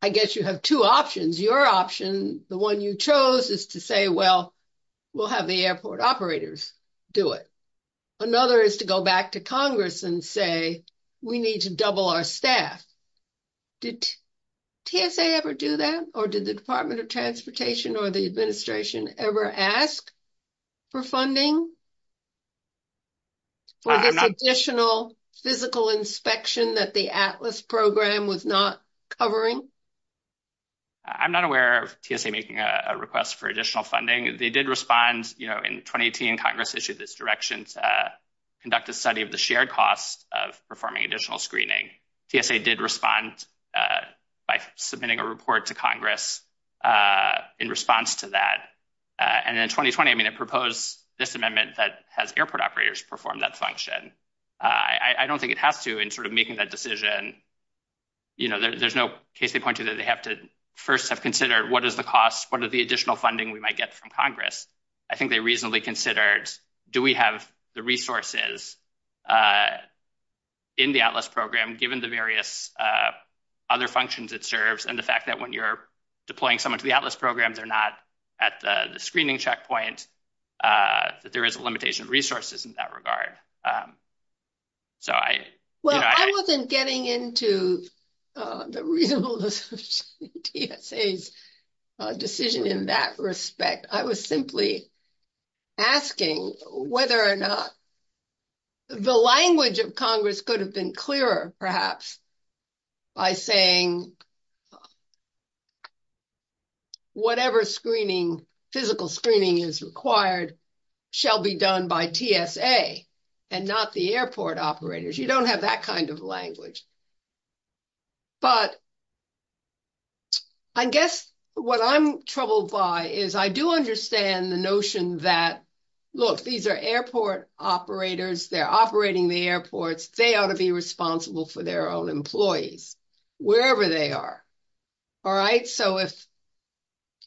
I guess you have two options. Your option, the one you chose, is to say, well, we'll have the airport operators do it. Another is to go back to Congress and say, we need to double our staff. Did TSA ever do that? Or did the Department of Transportation or the administration ever ask for funding? For the additional physical inspection that the Atlas program was not covering? I'm not aware of TSA making a request for additional funding. They did respond in 2018, Congress issued this direction to conduct a study of the shared costs of performing additional screening. TSA did respond by submitting a report to Congress in response to that. And in 2020, I mean, it proposed this amendment that has airport operators perform that function. I don't think it has to in sort of making that decision. There's no case they point to that they have to first have considered what is the additional funding we might get from Congress. I think they reasonably considered, do we have the resources in the Atlas program, given the various other functions it serves, and the fact that when you're deploying someone to the Atlas program, they're not at the screening checkpoint, that there is a limitation of resources in that regard. Well, I wasn't getting into the real decision in that respect. I was simply asking whether or not the language of Congress could have been clearer, perhaps, by saying whatever screening, physical screening is required, shall be done by TSA and not the airport operators. You don't have that kind of language. But I guess what I'm troubled by is I do understand the notion that, look, these are airport operators, they're operating the airports, they ought to be responsible for their own employees, wherever they are. All right? So, if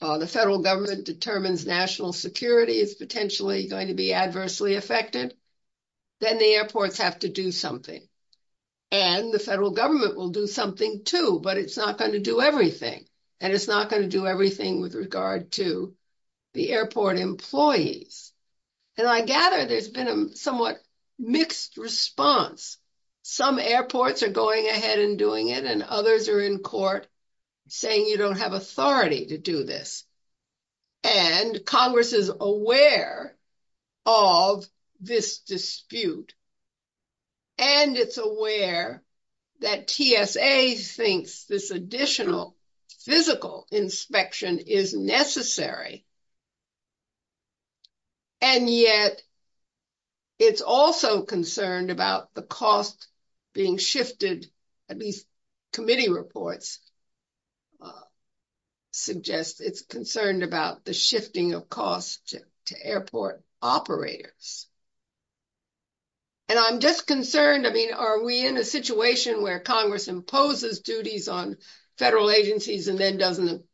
the federal government determines national security is potentially going to be adversely affected, then the airports have to do something. And the federal government will do something too, but it's not going to do everything. And it's not going to do everything with regard to the airport employees. And I gather there's been a somewhat mixed response. Some airports are going ahead and doing it, and others are in court saying you don't have authority to do this. And Congress is aware of this dispute. And it's aware that TSA thinks this additional physical inspection is necessary. And yet, it's also concerned about the cost being shifted, at least committee reports suggest it's concerned about the shifting of costs to airport operators. And I'm just concerned, I mean, are we in a situation where Congress imposes duties on federal agencies and then doesn't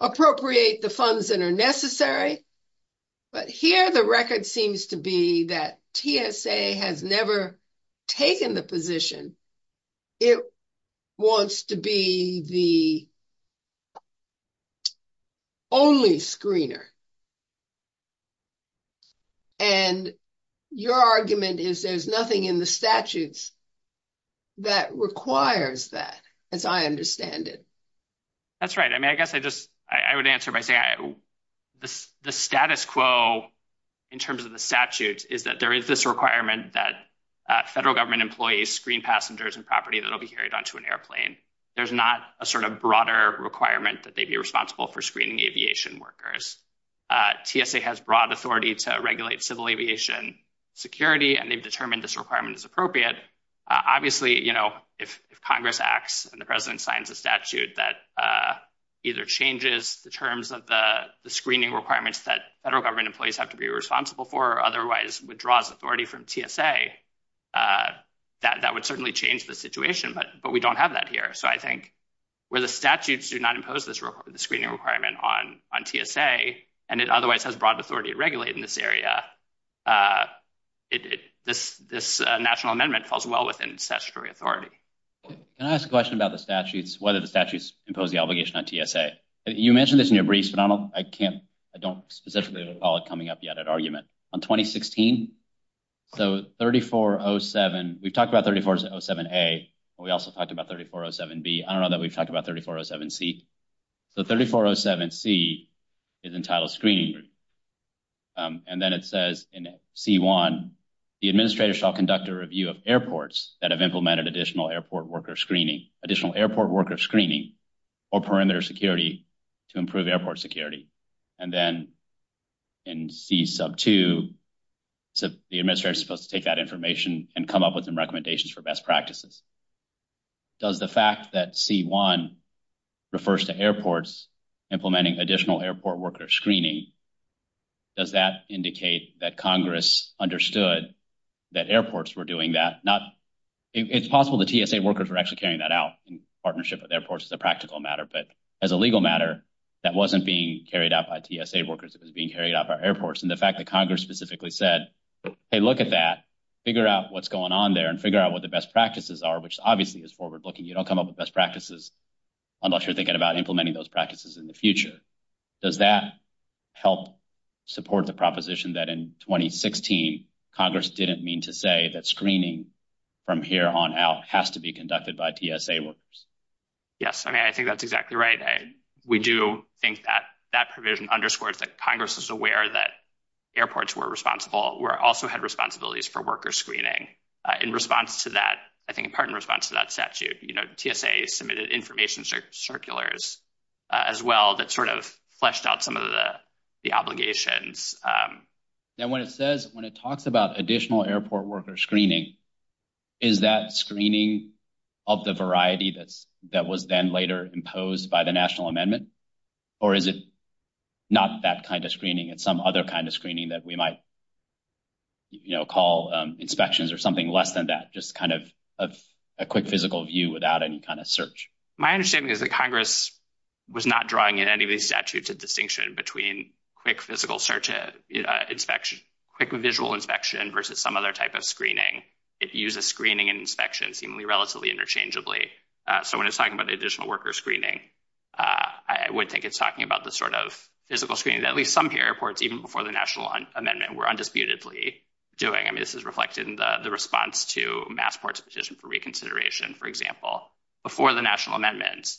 appropriate the funds that are necessary? But here, the record seems to be that TSA has never taken the position it wants to be the only screener. And your argument is there's nothing in the statutes that requires that, as I understand it. That's right. I mean, I guess I just, I would answer by saying the status quo in terms of the statutes is that there is this requirement that federal government employees screen passengers and property that will be carried onto an airplane. There's not a sort of broader requirement that they'd be responsible for screening aviation workers. TSA has broad authority to regulate civil aviation security, and they've determined this requirement is appropriate. Obviously, if Congress acts and the President signs a statute that either changes the terms of the screening requirements that federal government employees have to be responsible for or otherwise withdraws authority from TSA, that would certainly change the situation. But we don't have that here. So I think where the statutes do not impose the screening requirement on TSA, and it otherwise has broad authority to regulate in this area, this national amendment falls well within statutory authority. Can I ask a question about the statutes, whether the statutes impose the obligation on TSA? You mentioned this in your briefs, but I don't specifically recall it coming up yet at argument. On 2016, so 3407, we talked about 3407A, but we also talked about 3407B. I don't know that we've talked about 3407C. So 3407C is entitled screening. And then it says in C1, the administrator shall conduct a review of airports that have implemented additional airport worker screening, additional airport worker screening, or perimeter security to improve airport security. And then in C sub 2, the administrator is supposed to take that information and come up with recommendations for best practices. Does the fact that C1 refers to airports implementing additional airport worker screening, does that indicate that Congress understood that airports were doing that? It's possible the TSA workers were actually carrying that out in partnership with airports as a practical matter. But as a legal matter, that wasn't being carried out by TSA workers. It was being carried out by airports. And the fact that Congress specifically said, hey, look at that, figure out what's going on there, and figure out what the best practices are, which obviously is forward-looking. You don't come up with best practices unless you're thinking about implementing those practices in the future. Does that help support the proposition that in 2016, Congress didn't mean to say that screening from here on out has to be conducted by TSA workers? Yes. I mean, I think that's exactly right. We do think that that provision underscores that Congress is aware that airports were also had responsibilities for worker screening. In response to that, I think in part in response to that statute, TSA submitted information circulars as well that sort of fleshed out some of the obligations. And when it says, when it talks about additional airport worker screening, is that screening of the variety that was then later imposed by the national amendment? Or is it not that kind of screening? It's some other kind of screening that we might call inspections or something less than that, just kind of a quick physical view without any kind of search. My understanding is that Congress was not drawing in any of these statutes of distinction between quick physical search inspection, quick visual inspection versus some other type of screening. If you use a screening and inspection seemingly relatively interchangeably. So when it's talking about the additional worker screening, I would think it's talking about the sort of physical screening that at least some airports, even before the national amendment, were undisputedly doing. I mean, this is reflected in the response to Massport's decision for reconsideration, for example, before the national amendment,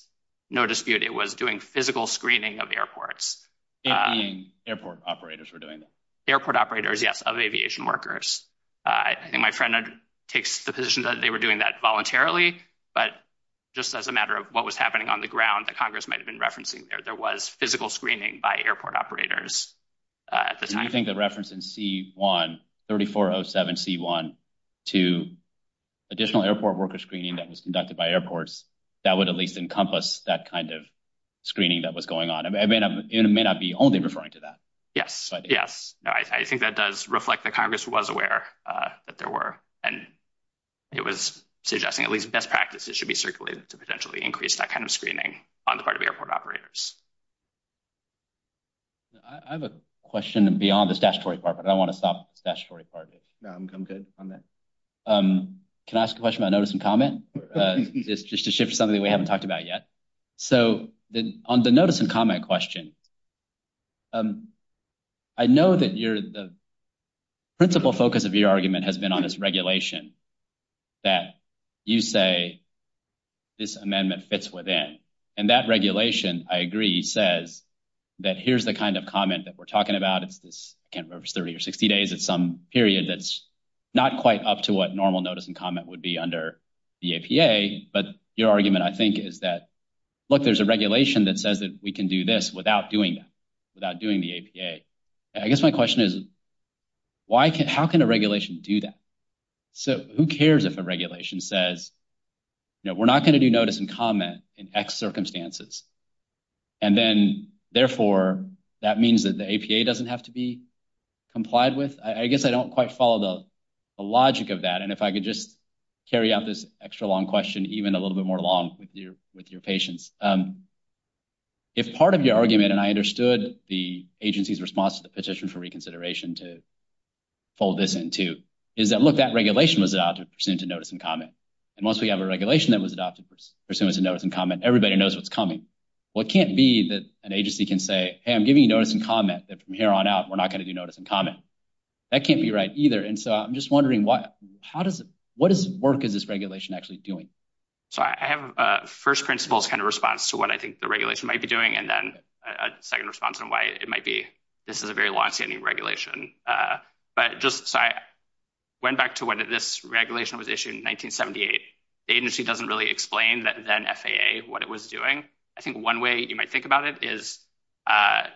no dispute, it was doing physical screening of airports. Airport operators were doing it. Airport operators, yes, of aviation workers. I think my friend takes the position that they were doing that voluntarily, but just as a matter of what was happening on the ground that Congress might've been referencing there, there was physical screening by airport operators. Do you think the reference in C-1, 3407 C-1 to additional airport worker screening that was conducted by airports, that would at least encompass that kind of screening that was going on? I mean, it may not be only referring to that. Yes. Yes. No, I think that does reflect that Congress was aware that there were, and it was suggesting at least best practices should be circulated to potentially increase that kind of screening on the part of airport operators. I have a question beyond the statutory part, but I want to stop the statutory part of it. No, I'm good on that. Can I ask a question about notice and comment? It's just to shift something that we haven't talked about yet. So on the notice and comment question, I know that the principal focus of your argument has been on this regulation that you say this amendment fits within, and that regulation, I agree, says that here's the kind of comment that we're talking about. It's 30 or 60 days. It's some period that's not quite up to what normal notice and comment would be under the APA. But your argument, I think, is that, look, there's regulation that says that we can do this without doing that, without doing the APA. I guess my question is, how can a regulation do that? So who cares if a regulation says, you know, we're not going to do notice and comment in X circumstances, and then, therefore, that means that the APA doesn't have to be complied with? I guess I don't quite follow the logic of that, and if I could carry out this extra-long question, even a little bit more long with your patients. If part of your argument, and I understood the agency's response to the petition for reconsideration to fold this in, too, is that, look, that regulation was adopted pursuant to notice and comment. And once we have a regulation that was adopted pursuant to notice and comment, everybody knows what's coming. Well, it can't be that an agency can say, hey, I'm giving you notice and comment, that from here on out, we're not going to do notice and comment. That can't be right, either. And so I'm just wondering, what is the work of this regulation actually doing? So I have a first principles kind of response to what I think the regulation might be doing, and then a second response on why it might be. This is a very long-standing regulation. But just, so I went back to when this regulation was issued in 1978. The agency doesn't really explain that then-FAA what it was doing. I think one way you might think about it is that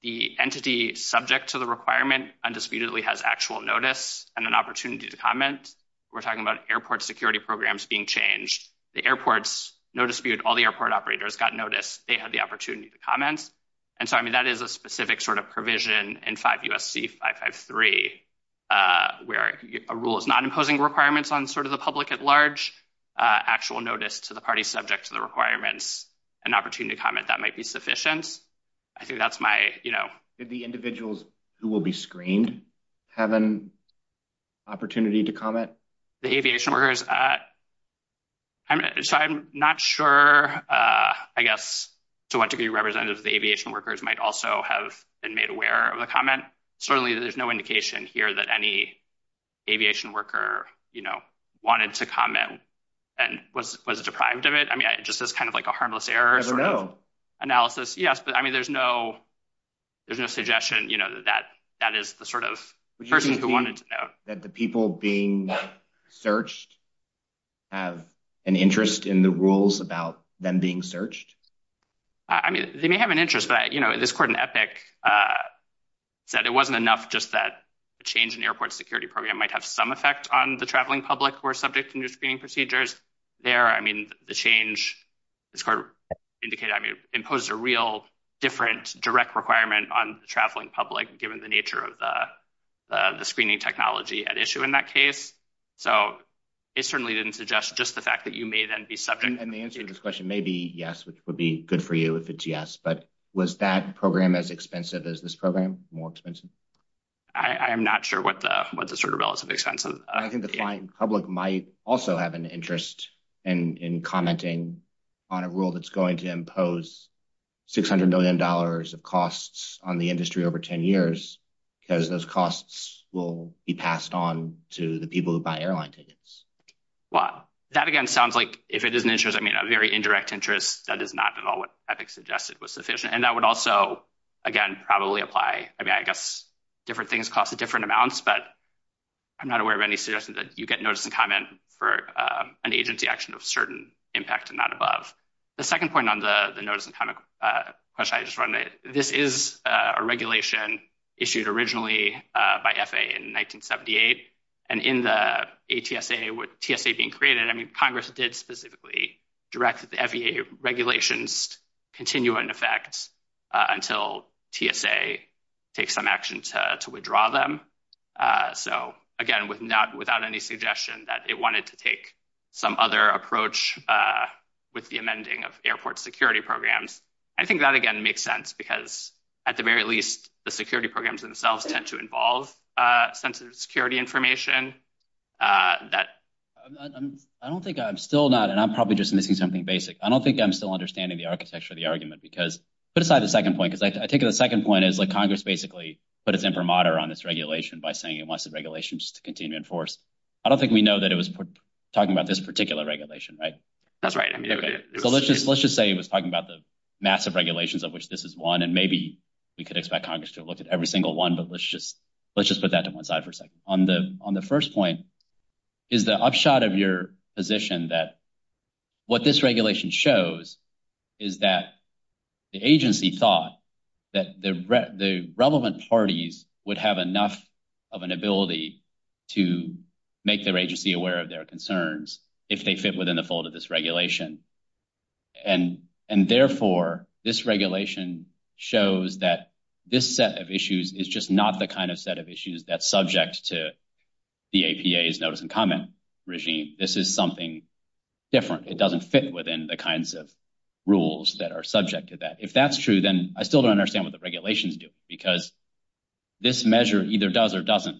the entity subject to the requirement undisputedly has actual notice and an opportunity to comment. We're talking about airport security programs being changed. The airports, no dispute, all the airport operators got notice. They had the opportunity to comment. And so, I mean, that is a specific sort of provision in 5 U.S.C. 553, where a rule is not imposing requirements on sort of the public at large. Actual notice to the party subject to requirements, an opportunity to comment, that might be sufficient. I think that's my, you know. Could the individuals who will be screened have an opportunity to comment? The aviation workers, I'm not sure, I guess, to what degree representatives of the aviation workers might also have been made aware of the comment. Certainly, there's no indication here that any aviation worker, you know, wanted to comment and was deprived of it. I mean, just as kind of like a harmless error. I don't know. Analysis, yes, but I mean, there's no suggestion, you know, that that is the sort of person who wanted to know. That the people being searched have an interest in the rules about them being searched? I mean, they may have an interest, but, you know, this court in Epic said it wasn't enough just that the change in airport security program might have some effect on the traveling public who are subject to new screening procedures. There, I mean, the change, this court indicated, I mean, imposed a real different direct requirement on the traveling public, given the nature of the screening technology at issue in that case. So, it certainly didn't suggest just the fact that you may then be subject. And the answer to this question may be yes, which would be good for you if it's yes. But was that program as expensive as this program? More expensive? I am not sure what the sort of relative expense is. I think the flying public might also have an interest in commenting on a rule that's going to impose $600 million of costs on the industry over 10 years, because those costs will be passed on to the people who buy airline tickets. Wow. That, again, sounds like if it is an very indirect interest, that is not at all what Epic suggested was sufficient. And that would also, again, probably apply. I mean, I guess different things cost different amounts, but I'm not aware of any suggestions that you get notice and comment for an agency action of certain impact and not above. The second point on the notice and comment question I just wanted to make, this is a regulation issued originally by FAA in 1978. And in the ATSA with TSA being created, I mean, it specifically directed the FAA regulations to continue in effect until TSA takes some action to withdraw them. So again, without any suggestion that it wanted to take some other approach with the amending of airport security programs. I think that, again, makes sense because at the very least, the security programs themselves tend to involve sensitive security information. I don't think I'm still not, and I'm probably just missing something basic. I don't think I'm still understanding the architecture of the argument because, put aside the second point, because I think the second point is like Congress basically put it's imprimatur on this regulation by saying it wants the regulations to continue in force. I don't think we know that it was talking about this particular regulation, right? That's right. Let's just say it was talking about the massive regulations of which this is one, and maybe you could expect Congress to look at every single one, but let's just put that to one side for a minute. I think the first point is the upshot of your position that what this regulation shows is that the agency thought that the relevant parties would have enough of an ability to make their agency aware of their concerns if they fit within the fold of this regulation. Therefore, this regulation shows that this set of issues is just not the kind of set of issues that's subject to the APA's notice and comment regime. This is something different. It doesn't fit within the kinds of rules that are subject to that. If that's true, then I still don't understand what the regulations do because this measure either does or doesn't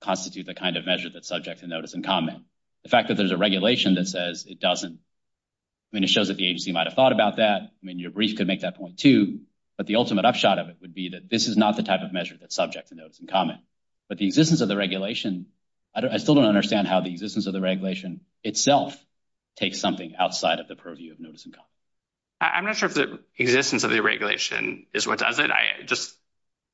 constitute the kind of measure that's subject to notice and comment. The fact that there's a regulation that says it doesn't, I mean, it shows that the agency might have thought about that. I mean, your brief could make that point too, but the ultimate upshot of it would be that this is not the type of regulation. I still don't understand how the existence of the regulation itself takes something outside of the purview of notice and comment. I'm not sure if the existence of the regulation is what does it.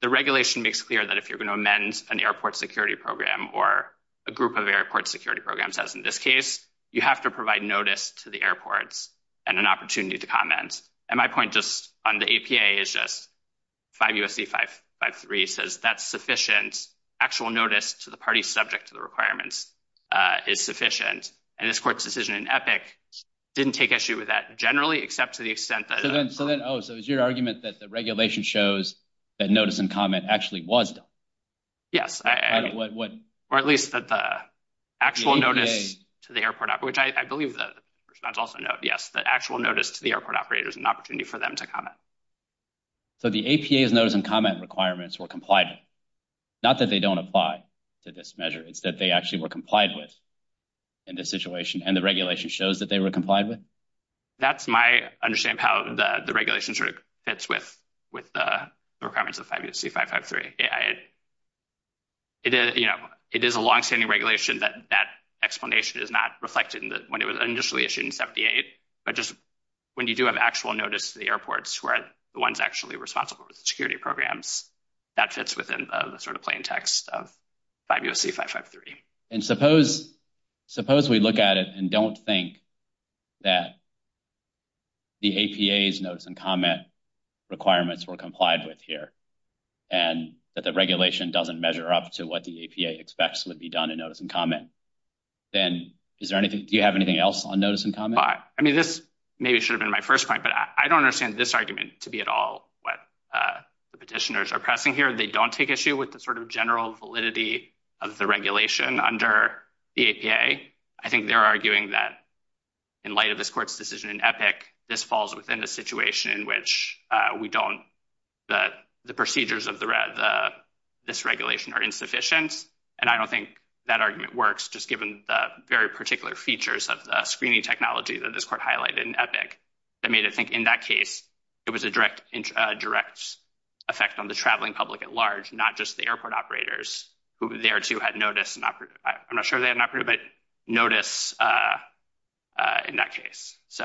The regulation makes clear that if you're going to amend an airport security program or a group of airport security programs, as in this case, you have to provide notice to the airports and an opportunity to comment. My point just on the APA is just 5 U.S.C. 553 says that's sufficient actual notice to the party subject to the requirements. It's sufficient. And this court's decision in EPIC didn't take issue with that generally, except to the extent that- So then, oh, so it was your argument that the regulation shows that notice and comment actually was done? Yes. Or at least that the actual notice to the airport, which I believe the response also noted, yes, the actual notice to the airport operator is an opportunity for them to comment. So the APA's notice and comment requirements were complied with, not that they don't apply to this measure. It's that they actually were complied with in this situation, and the regulation shows that they were complied with? That's my understanding of how the regulation sort of fits with the requirements of 5 U.S.C. 553. It is a longstanding regulation that that explanation is not reflected when it was initially issued in 78, but just when you do have actual notice to the airports who are the ones actually responsible for the security programs, that fits within the sort of plain text of 5 U.S.C. 553. And suppose we look at it and don't think that the APA's notice and comment requirements were complied with here, and that the regulation doesn't measure up to what the APA would expect to be done in notice and comment, then do you have anything else on notice and comment? I mean, this maybe should have been my first point, but I don't understand this argument to be at all what the petitioners are pressing here. They don't take issue with the sort of general validity of the regulation under the APA. I think they're arguing that in light of this court's decision in EPIC, this falls within the situation in which the procedures of this regulation are insufficient. And I don't think that argument works, just given the very particular features of the screening technology that this court highlighted in EPIC. I mean, I think in that case, it was a direct effect on the traveling public at large, not just the airport operators, who there, too, had notice. I'm not sure they had an operator, but notice in that case. So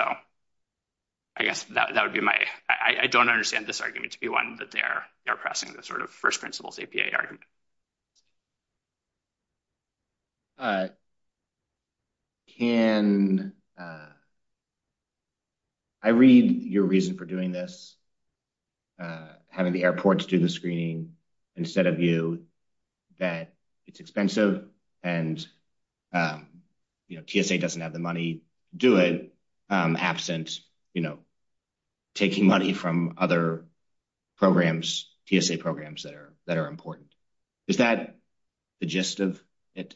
I guess that would be my – I don't understand this argument to be one that they're pressing, the sort of first principles APA argument. Can – I read your reason for doing this, having the airports do the screening, instead of you, that it's expensive and TSA doesn't have the money to do it, absent, you know, taking money from other programs, TSA programs that are important. Is that the gist of it?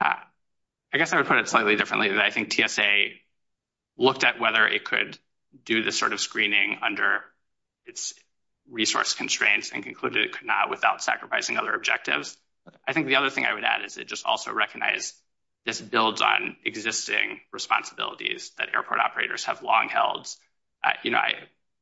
I guess I would put it slightly differently. I think TSA looked at whether it could do this sort of screening under its resource constraints and concluded it could not without sacrificing other objectives. I think the other thing I would add is it just also recognized this builds on existing responsibilities that airport operators have long held. You know,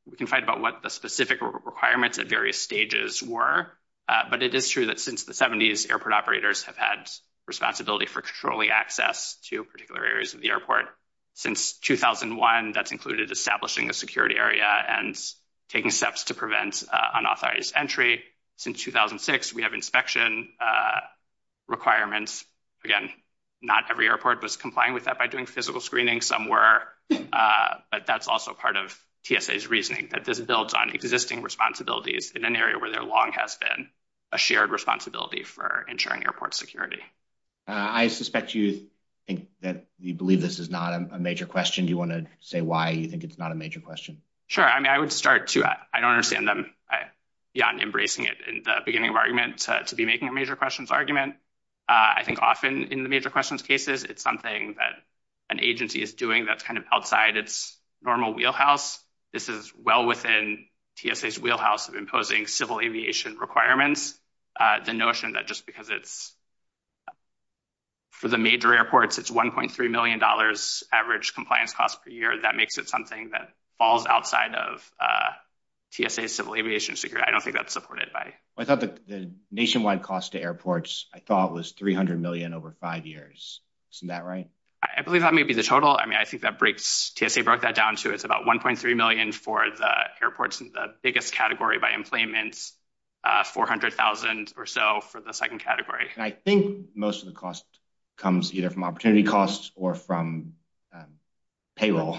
we can fight about what the specific requirements at various stages were, but it is true that since the 70s, airport operators have had responsibility for controlling access to particular areas of the airport. Since 2001, that's included establishing a security area and taking steps to prevent unauthorized entry. Since 2006, we have inspection requirements. Again, not every airport was complying with that by doing physical screening, some were, but that's also part of TSA's reasoning, that this builds on existing responsibilities in an area where there long has been a shared responsibility for ensuring airport security. I suspect you think that you believe this is not a major question. Do you want to say why you think it's not a major question? Sure. I mean, I would start to – I don't think it's a major question. I think often in the major questions cases, it's something that an agency is doing that's kind of outside its normal wheelhouse. This is well within TSA's wheelhouse of imposing civil aviation requirements. The notion that just because it's for the major airports, it's $1.3 million average compliance cost per year. That makes it something that falls outside of TSA's civil aviation security. I don't think that's supported by – I thought it was $300 million over five years. Isn't that right? I believe that may be the total. I mean, I think that breaks – TSA broke that down to it's about $1.3 million for the airports in the biggest category by employment, $400,000 or so for the second category. I think most of the cost comes either from opportunity costs or from payroll.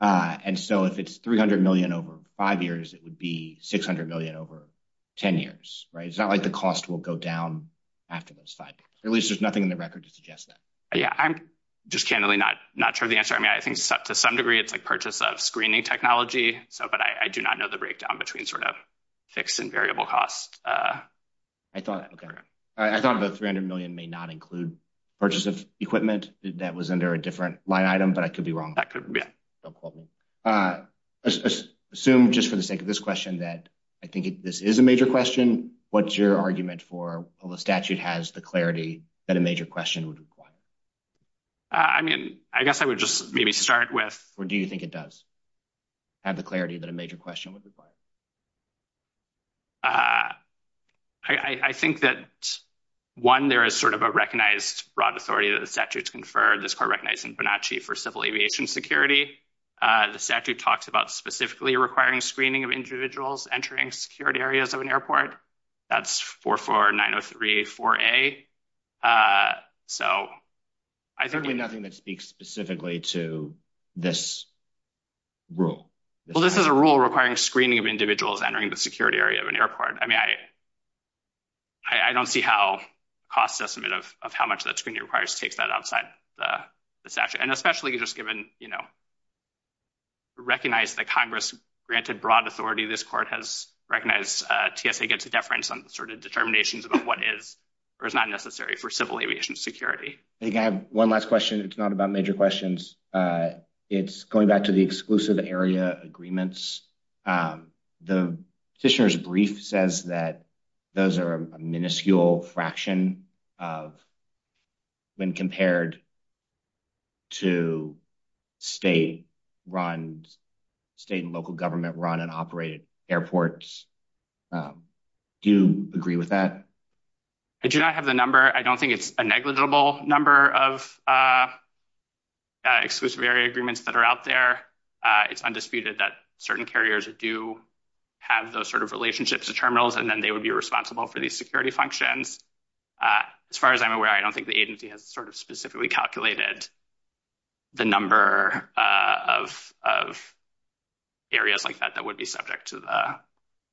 If it's $300 million over five years, it would be $600 million over 10 years, right? It's not like the cost will go down after those five years. At least there's nothing in the record to suggest that. Yeah. I'm just candidly not sure of the answer. I mean, I think to some degree, it's like purchase of screening technology, but I do not know the breakdown between sort of fixed and variable cost. I thought – okay. I thought about $300 million may not include purchase of equipment that was under a different line item, but I could be wrong. That could be. Don't quote me. Let's assume just for the sake of this question that I think this is a major question. What's your argument for whether the statute has the clarity that a major question would require? I mean, I guess I would just maybe start with – Or do you think it does have the clarity that a major question would require? I think that, one, there is sort of a recognized broad authority that the statute's conferred, recognized in Bonacci for civil aviation security. The statute talks about specifically requiring screening of individuals entering security areas of an airport. That's 44903-4A. So I think – There's nothing that speaks specifically to this rule. Well, this is a rule requiring screening of individuals entering the security area of an airport. I mean, I don't see how cost estimate of how much that screening requires to take that outside the statute. And especially just given, you know, recognize that Congress granted broad authority, this court has recognized TSA gets a deference on sort of determinations about what is or is not necessary for civil aviation security. I have one last question. It's not about major questions. It's going back to the exclusive area agreements. The Fisher's brief says that those are a minuscule fraction of when compared to state-run, state and local government-run and operated airports. Do you agree with that? I do not have the number. I don't think it's a negligible number of exclusive area agreements that are out there. It's undisputed that certain carriers do have those sort of relationships to terminals, and then they would be responsible for these functions. As far as I'm aware, I don't think the agency has sort of specifically calculated the number of areas like that that would be subject to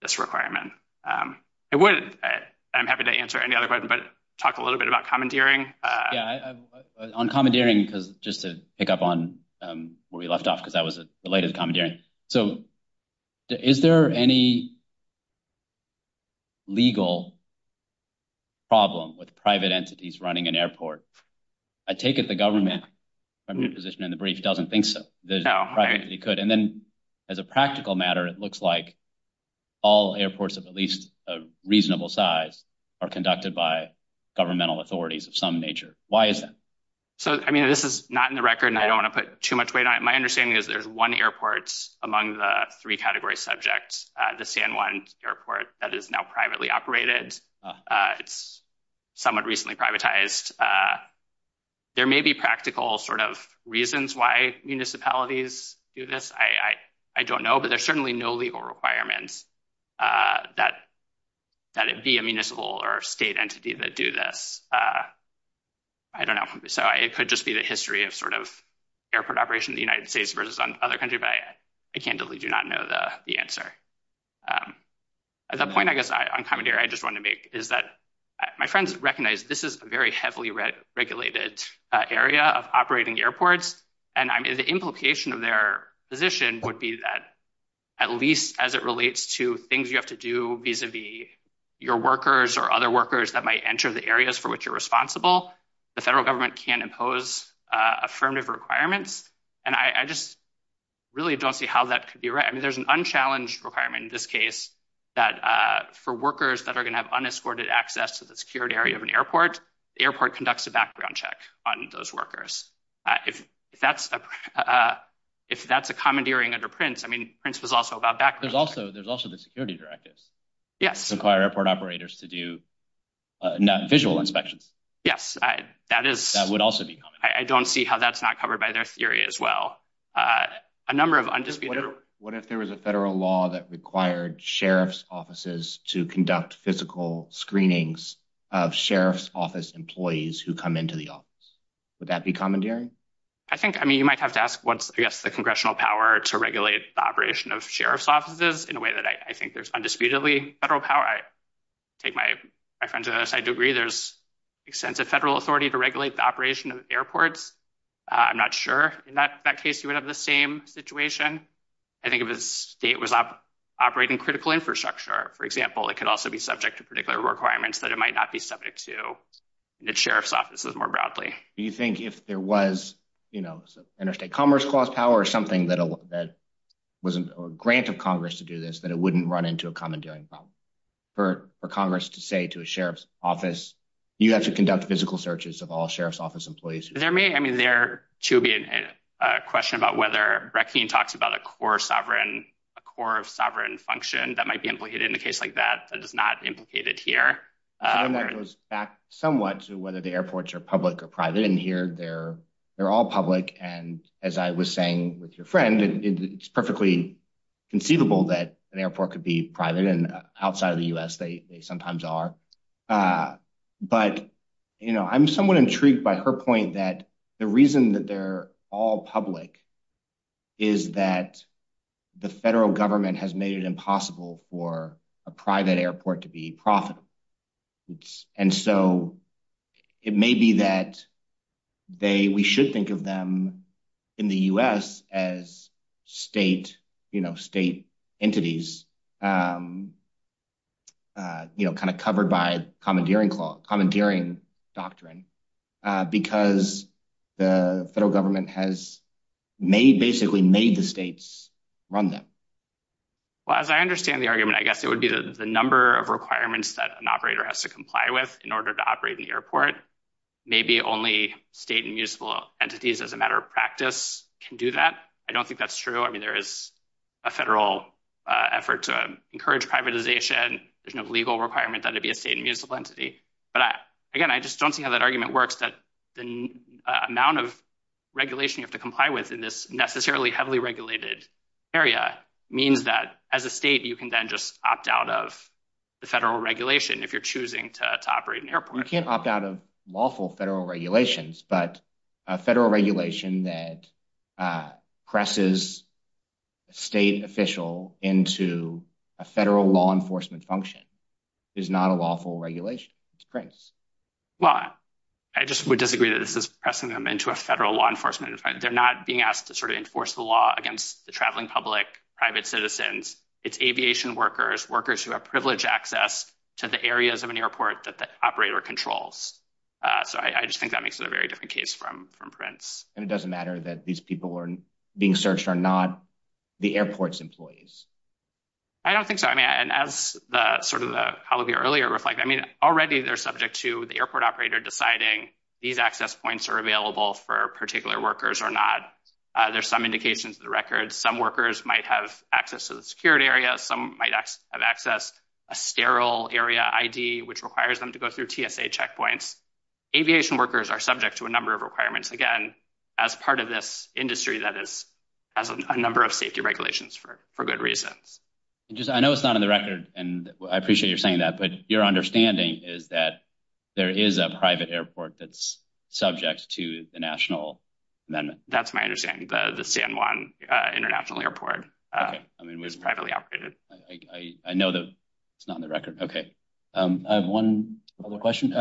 this requirement. I'm happy to answer any other questions, but talk a little bit about commandeering. On commandeering, just to pick up on where we left off, because that was the latest commandeering. So is there any legal problem with private entities running an airport? I take it the government position in the brief doesn't think so. And then, as a practical matter, it looks like all airports of at least a reasonable size are conducted by governmental authorities of some nature. Why is that? I mean, this is not in the record, and I don't want to put too much weight on it. My among the three category subjects, the San Juan airport that is now privately operated. It's somewhat recently privatized. There may be practical sort of reasons why municipalities do this. I don't know, but there's certainly no legal requirements that it be a municipal or state entity that do this. I don't know. So it could just be the history of sort of operation in the United States versus other countries, but I candidly do not know the answer. The point, I guess, on commandeering I just want to make is that my friends recognize this is a very heavily regulated area of operating airports. And I mean, the implication of their position would be that at least as it relates to things you have to do vis-a-vis your workers or other workers that might enter the areas for which you're responsible, the federal government can impose affirmative requirements. And I just really don't see how that could be right. I mean, there's an unchallenged requirement in this case that for workers that are going to have unescorted access to the security area of an airport, the airport conducts a background check on those workers. If that's a commandeering under Prince, I mean, Prince was also about that. There's also the security directives that require airport operators to do non-official inspections. Yes, that would also be common. I don't see how that's not covered by their theory as well. A number of undisputed... What if there was a federal law that required sheriff's offices to conduct physical screenings of sheriff's office employees who come into the office? Would that be commandeering? I think, I mean, you might have to ask what's, I guess, the congressional power to regulate the operation of sheriff's offices in a way that I think there's undisputedly federal power. I think my friends on the other side would agree there's extensive federal authority to regulate the operation of airports. I'm not sure. In that case, you would have the same situation. I think if the state was operating critical infrastructure, for example, it could also be subject to particular requirements that it might not be subject to the sheriff's offices more broadly. Do you think if there was, you know, interstate commerce clause power or something that wasn't a grant of Congress to do this, it wouldn't run into a commandeering problem for Congress to say to a sheriff's office, you have to conduct physical searches of all sheriff's office employees? There may, I mean, there should be a question about whether Rexine talks about a core sovereign function that might be implicated in a case like that, that is not implicated here. I don't know if it goes back somewhat to whether the airports are public or private. In here, they're all public. And as I was saying with your friend, it's perfectly conceivable that an airport could be private and outside of the U.S. they sometimes are. But, you know, I'm somewhat intrigued by her point that the reason that they're all public is that the federal government has made it impossible for a private airport to be profitable. And so it may be that we should think of them in the U.S. as state entities, you know, kind of covered by commandeering doctrine, because the federal government has basically made the states run them. Well, as I understand the argument, I guess it would be that the number of requirements that an operator has to comply with in order to operate the airport, maybe only state and municipal entities as a matter of practice can do that. I don't think that's true. I mean, there is a federal effort to encourage privatization, there's no legal requirement that it be a state and municipal entity. But again, I just don't think that argument works that the amount of regulation you have to comply with in this necessarily heavily regulated area means that as a state, you can then just opt out of the federal regulation if you're choosing to operate an airport. You can't opt out of lawful federal regulations, but a federal regulation that presses a state official into a federal law enforcement function is not a lawful regulation. Well, I just would disagree that this is pressing them into a federal law enforcement. They're not being asked to sort of enforce the law against the traveling public, private citizens, it's aviation workers, workers who have privileged access to the areas of an airport that the operator controls. So I just think that makes it a very different case from Prince. And it doesn't matter that these people are being searched or not the airport's employees. I don't think so. I mean, and as the sort of the earlier reflect, I mean, already, they're subject to the airport operator deciding these access points are available for particular workers or not. There's some indications of the record, some workers might have access to the security area, some might have access, a sterile area ID, which requires them to go through TSA checkpoints. Aviation workers are subject to a number of requirements, again, as part of this industry that is a number of safety regulations for good reasons. I know it's not in the record, and I appreciate you're saying that, but your understanding is that there is a private airport that's subject to the national. That's my understanding. The San Juan International Airport was privately operated. I know that it's not in the record. Okay. I have one other question.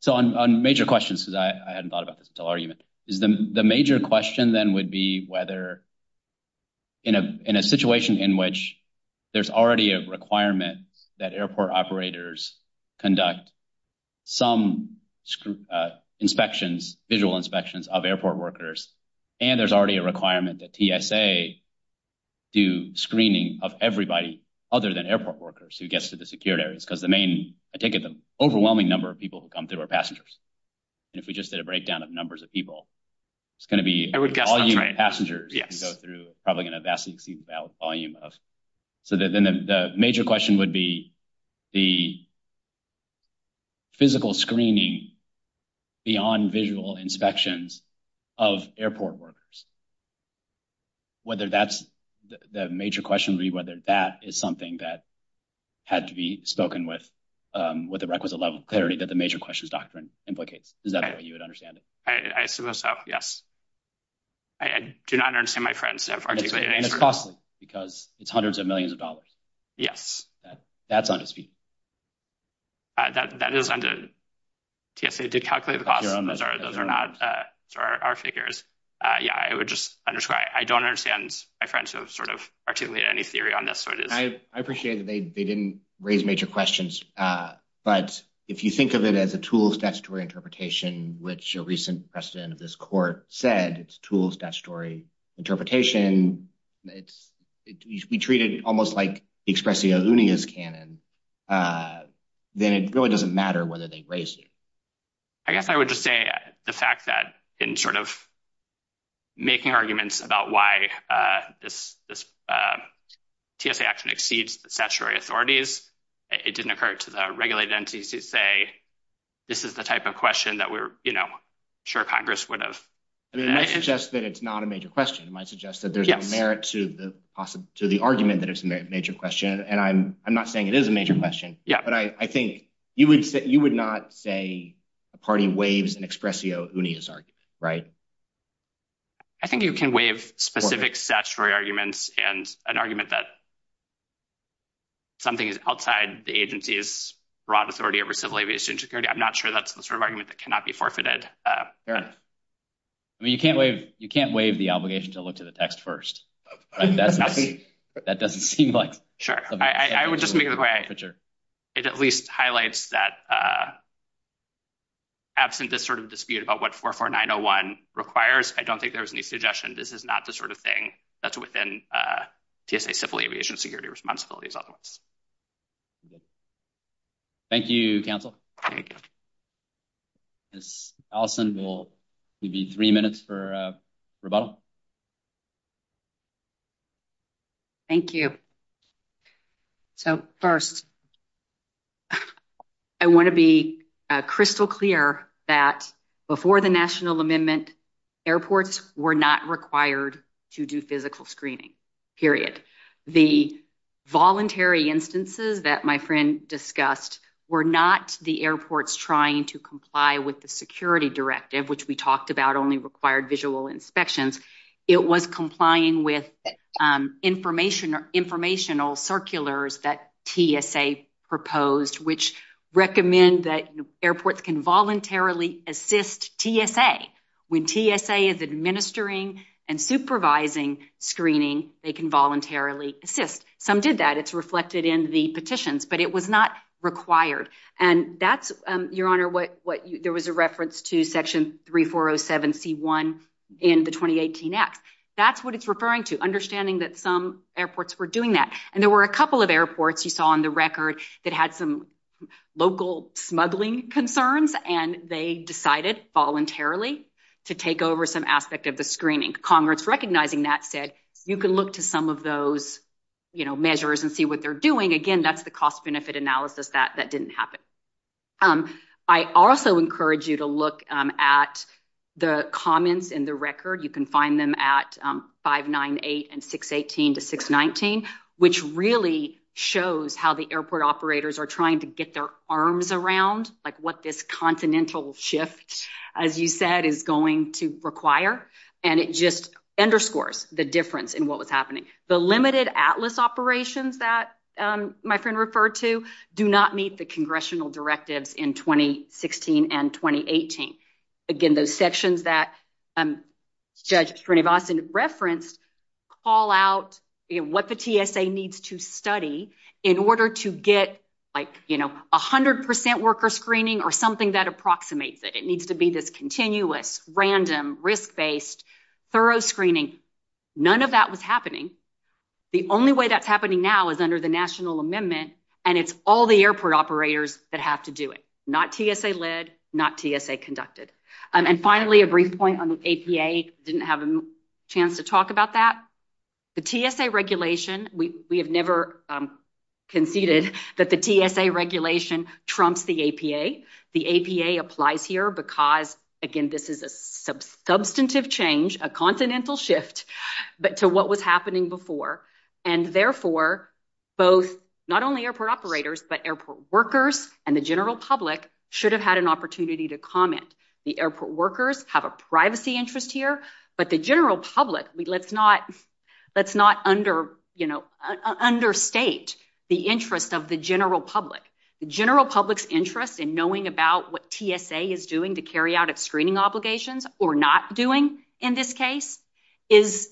So on major questions, because I hadn't thought about this argument. The major question then would be whether in a situation in which there's already a requirement that airport operators conduct some inspections, visual inspections of airport workers, and there's already a requirement that TSA do screening of everybody other than airport workers who gets to the secured areas, because the main, I take it, the overwhelming number of people who come through are passengers. And if we just did a breakdown of numbers of people, it's going to be passengers who go through, probably going to vastly exceed the volume of... So then the major question would be the physical screening beyond visual inspections of airport workers. Whether that's the major question would be whether that is something that had to be spoken with with the requisite level of clarity that the major questions doctrine implicates. Is that how you would understand it? I see what's up. Yes. I do not understand my credence. And it's costly because it's hundreds of millions of dollars. Yes. That's on its feet. That is on the... Yes, they did calculate... Those are not our figures. Yeah, I would just under... I don't understand my credence of sort of particularly any theory on this. I appreciate that they didn't raise major questions. But if you think of it as a tools statutory interpretation, which a recent precedent of this court said, it's tools statutory interpretation. We treat it almost like expressing a loony as canon. Then it really doesn't matter whether they raised it. I guess I would just say the fact that in sort of making arguments about why this TSA actually exceeds the statutory authorities, it didn't occur to the regulated entities to say, this is the type of question that we're sure Congress would have... It might suggest that it's not a major question. It might suggest that there's a merit to the argument that it's a major question. And I'm not saying it is a major question. Yeah. But I think you would not say the party waives an expressio unis, right? I think you can waive specific statutory arguments and an argument that something outside the agency's broad authority over civil aviation security. I'm not sure that's the sort of argument that cannot be forfeited. You can't waive the obligation to look to the text first, but that doesn't seem like... Sure. I would just make the point that it at least highlights that, absent this sort of dispute about what 44901 requires, I don't think there's any suggestion this is not the sort of thing that's within TSA civil aviation security responsibilities. Thank you, counsel. Ms. Dawson, it will be three minutes for rebuttal. Thank you. So first, I want to be crystal clear that before the National Amendment, airports were not required to do physical screening, period. The voluntary instances that my friend discussed were not the airports trying to comply with the security directive, which we talked about only required visual inspections. It was complying with informational circulars that TSA proposed, which recommend that airports can voluntarily assist TSA. When TSA is administering and supervising screening, they can voluntarily assist. Some did that. It's reflected in the petitions, but it was not required. Your Honor, there was a reference to Section 3407C1 in the 2018 Act. That's what it's referring to, understanding that some airports were doing that. And there were a couple of airports you saw on the record that had some local smuggling concerns, and they decided voluntarily to take over some aspect of the measures and see what they're doing. Again, that's the cost-benefit analysis that didn't happen. I also encourage you to look at the comments in the record. You can find them at 598 and 618 to 619, which really shows how the airport operators are trying to get their arms around what this continental shift, as you said, is going to require. And it just underscores the difference in what was happening. The limited ATLAS operations that my friend referred to do not meet the congressional directives in 2016 and 2018. Again, those sections that Judge Srinivasan referenced call out what the TSA needs to study in order to get 100% worker screening or something that approximates it. It needs to be this continuous, random, risk-based, thorough screening. None of that was happening. The only way that's happening now is under the National Amendment, and it's all the airport operators that have to do it, not TSA-led, not TSA-conducted. And finally, a brief point on the APA. I didn't have a chance to talk about that. The TSA regulation, we have never conceded that the TSA regulation trumps the APA. The APA applies here because, again, this is a substantive change, a continental shift, but to what was happening before. And therefore, not only airport operators, but airport workers and the general public should have had an opportunity to comment. The airport workers have a privacy interest here, but the general public, let's not understate the interest of the public. The general public's interest in knowing about what TSA is doing to carry out its screening obligations, or not doing in this case, is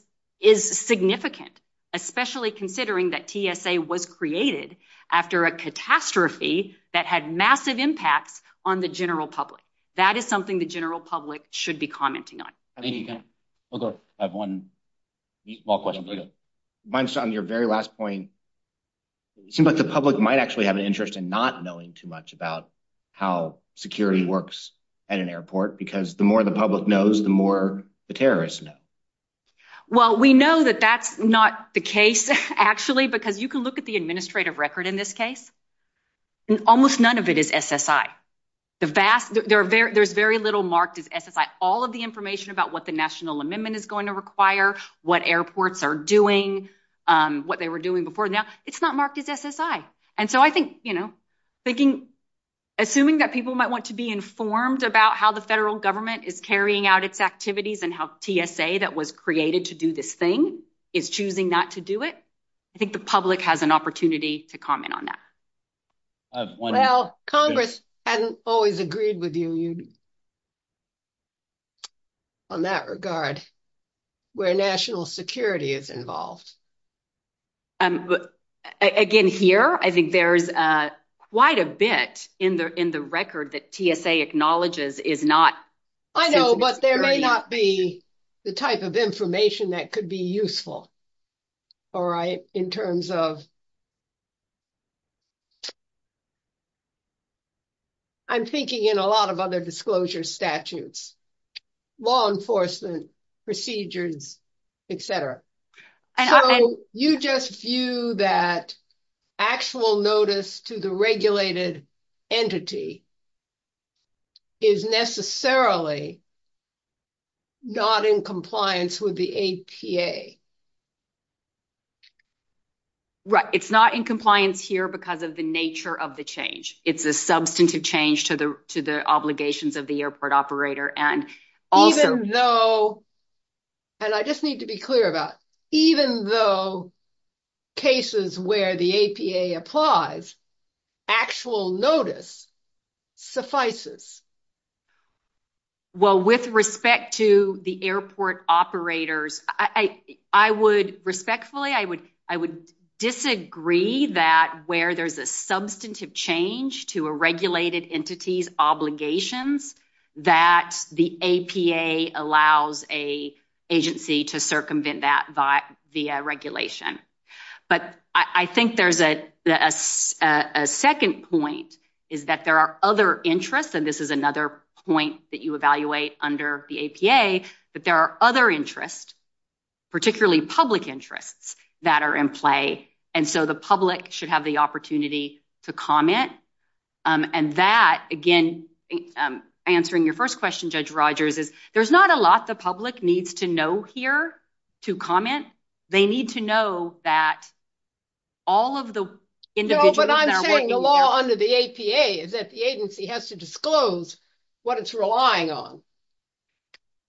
significant, especially considering that TSA was created after a catastrophe that had massive impacts on the general public. That is something the general public should be commenting on. I think we have one small question. On your very last point, it seems like the public might actually have an interest in not knowing too much about how security works at an airport, because the more the public knows, the more the terrorists know. Well, we know that that's not the case, actually, because you can look at the administrative record in this case, and almost none of it is SSI. There's very little marked as SSI. All of the information about what National Amendment is going to require, what airports are doing, what they were doing before now, it's not marked as SSI. Assuming that people might want to be informed about how the federal government is carrying out its activities and how TSA that was created to do this thing is choosing not to do it, I think the public has an opportunity to comment on that. Well, Congress hasn't always agreed with you on that regard, where national security is involved. Again, here, I think there's quite a bit in the record that TSA acknowledges is not- I know, but there may not be the type of information that could be useful in terms of disclosure. I'm thinking in a lot of other disclosure statutes, law enforcement, procedures, et cetera. You just view that actual notice to the regulated entity is necessarily not in compliance with the APA. Right. It's not in compliance here because of the nature of the change. It's a substantive change to the obligations of the airport operator. Even though, and I just need to be clear about, even though cases where the APA applies, actual notice suffices. Well, with respect to the airport operators, I would respectfully, I would disagree that where there's a substantive change to a regulated entity's obligations, that the APA allows a agency to circumvent that via regulation. I think there's a second point is that there are other interests, and this is another point that you evaluate under the APA, that there are other interests, particularly public interests that are in play, and so the public should have the opportunity to comment. That, again, answering your first question, Judge Rogers, is there's not a lot the public needs to know here to comment. They need to know that all of the individuals- But I'm saying the law under the APA is that the agency has to disclose what it's relying on.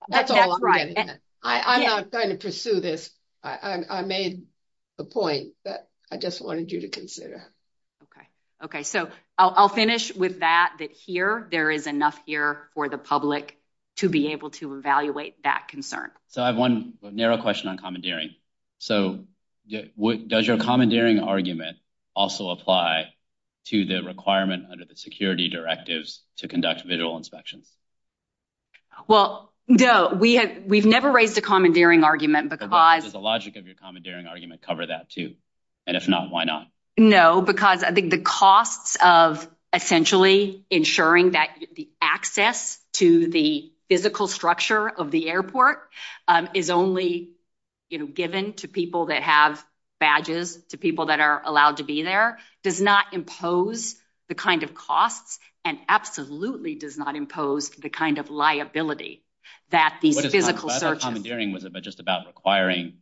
That's all I'm saying. I'm not going to pursue this. I made a point, but I just wanted you to consider. Okay. Okay. So I'll finish with that, that here there is enough here for the public to be able to evaluate that concern. So I have one narrow question on commandeering. So does your commandeering argument also apply to the requirement under the security directives to conduct visual inspection? Well, no. We've never raised a commandeering argument because- Does the logic of your commandeering argument cover that too? And if not, why not? No, because I think the costs of essentially ensuring that the access to the physical structure of the airport is only given to people that have badges, to people that are allowed to be there, does not impose the kind of costs and absolutely does not impose the kind of liability that the physical search- What is my comment on commandeering was just about acquiring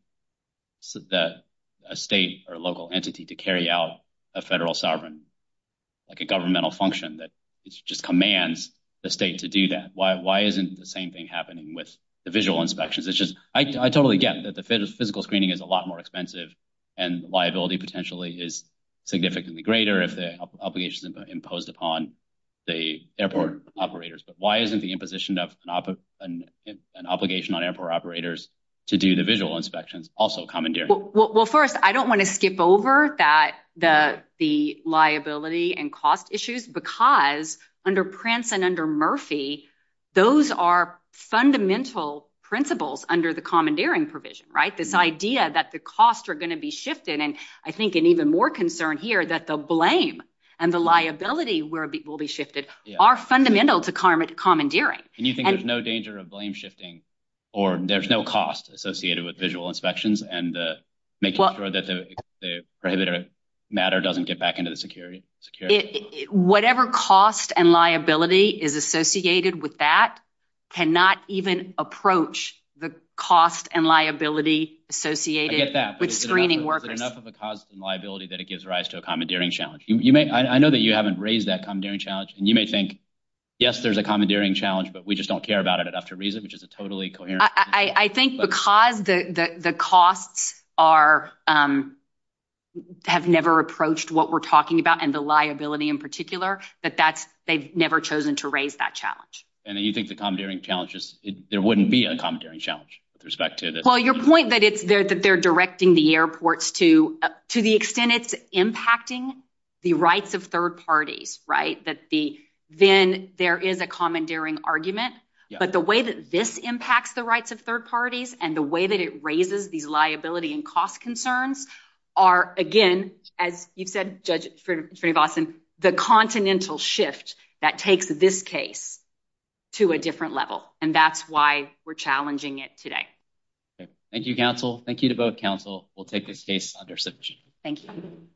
a state or local entity to carry out a federal sovereign, like a governmental function that just commands the state to do that. Why isn't the same thing happening with the visual inspections? I totally get that the physical screening is a lot more expensive and liability potentially is significantly greater if the obligations are imposed upon the airport operators, but why isn't the imposition of an obligation on airport operators to do the visual inspections also commandeering? Well, first, I don't want to skip over that the liability and cost issues because under Prince and under Murphy, those are fundamental principles under the commandeering provision, right? This idea that the costs are going to be shifted and I think an even more concern here that the blame and the liability will be shifted are fundamental to commandeering. And you think there's no danger of blame shifting or there's no cost associated with visual inspections and making sure that the matter doesn't get back into the security? Whatever cost and liability is associated with that cannot even approach the cost and liability associated with screening workers. Is it enough of a cost and liability that it gives rise to a commandeering challenge? I know that you haven't raised that commandeering challenge and you may think, yes, there's a commandeering challenge, but we just don't care about it enough to raise it, which is a totally coherent- I think because the costs have never approached what we're talking about and the liability in particular, that they've never chosen to raise that challenge. And you think the commandeering challenge is- there wouldn't be a commandeering challenge with respect to this? Well, your point that they're directing the airports to the extent it's impacting the rights of third parties, right? Then there is a commandeering argument, but the way that this impacts the rights of third parties and the way that it raises the liability and cost concerns are, again, as you said, Judge Sperry-Boston, the continental shift that takes this case to a different level, and that's why we're challenging it today. Thank you, counsel. Thank you to both counsel. We'll take this case under submission. Thank you.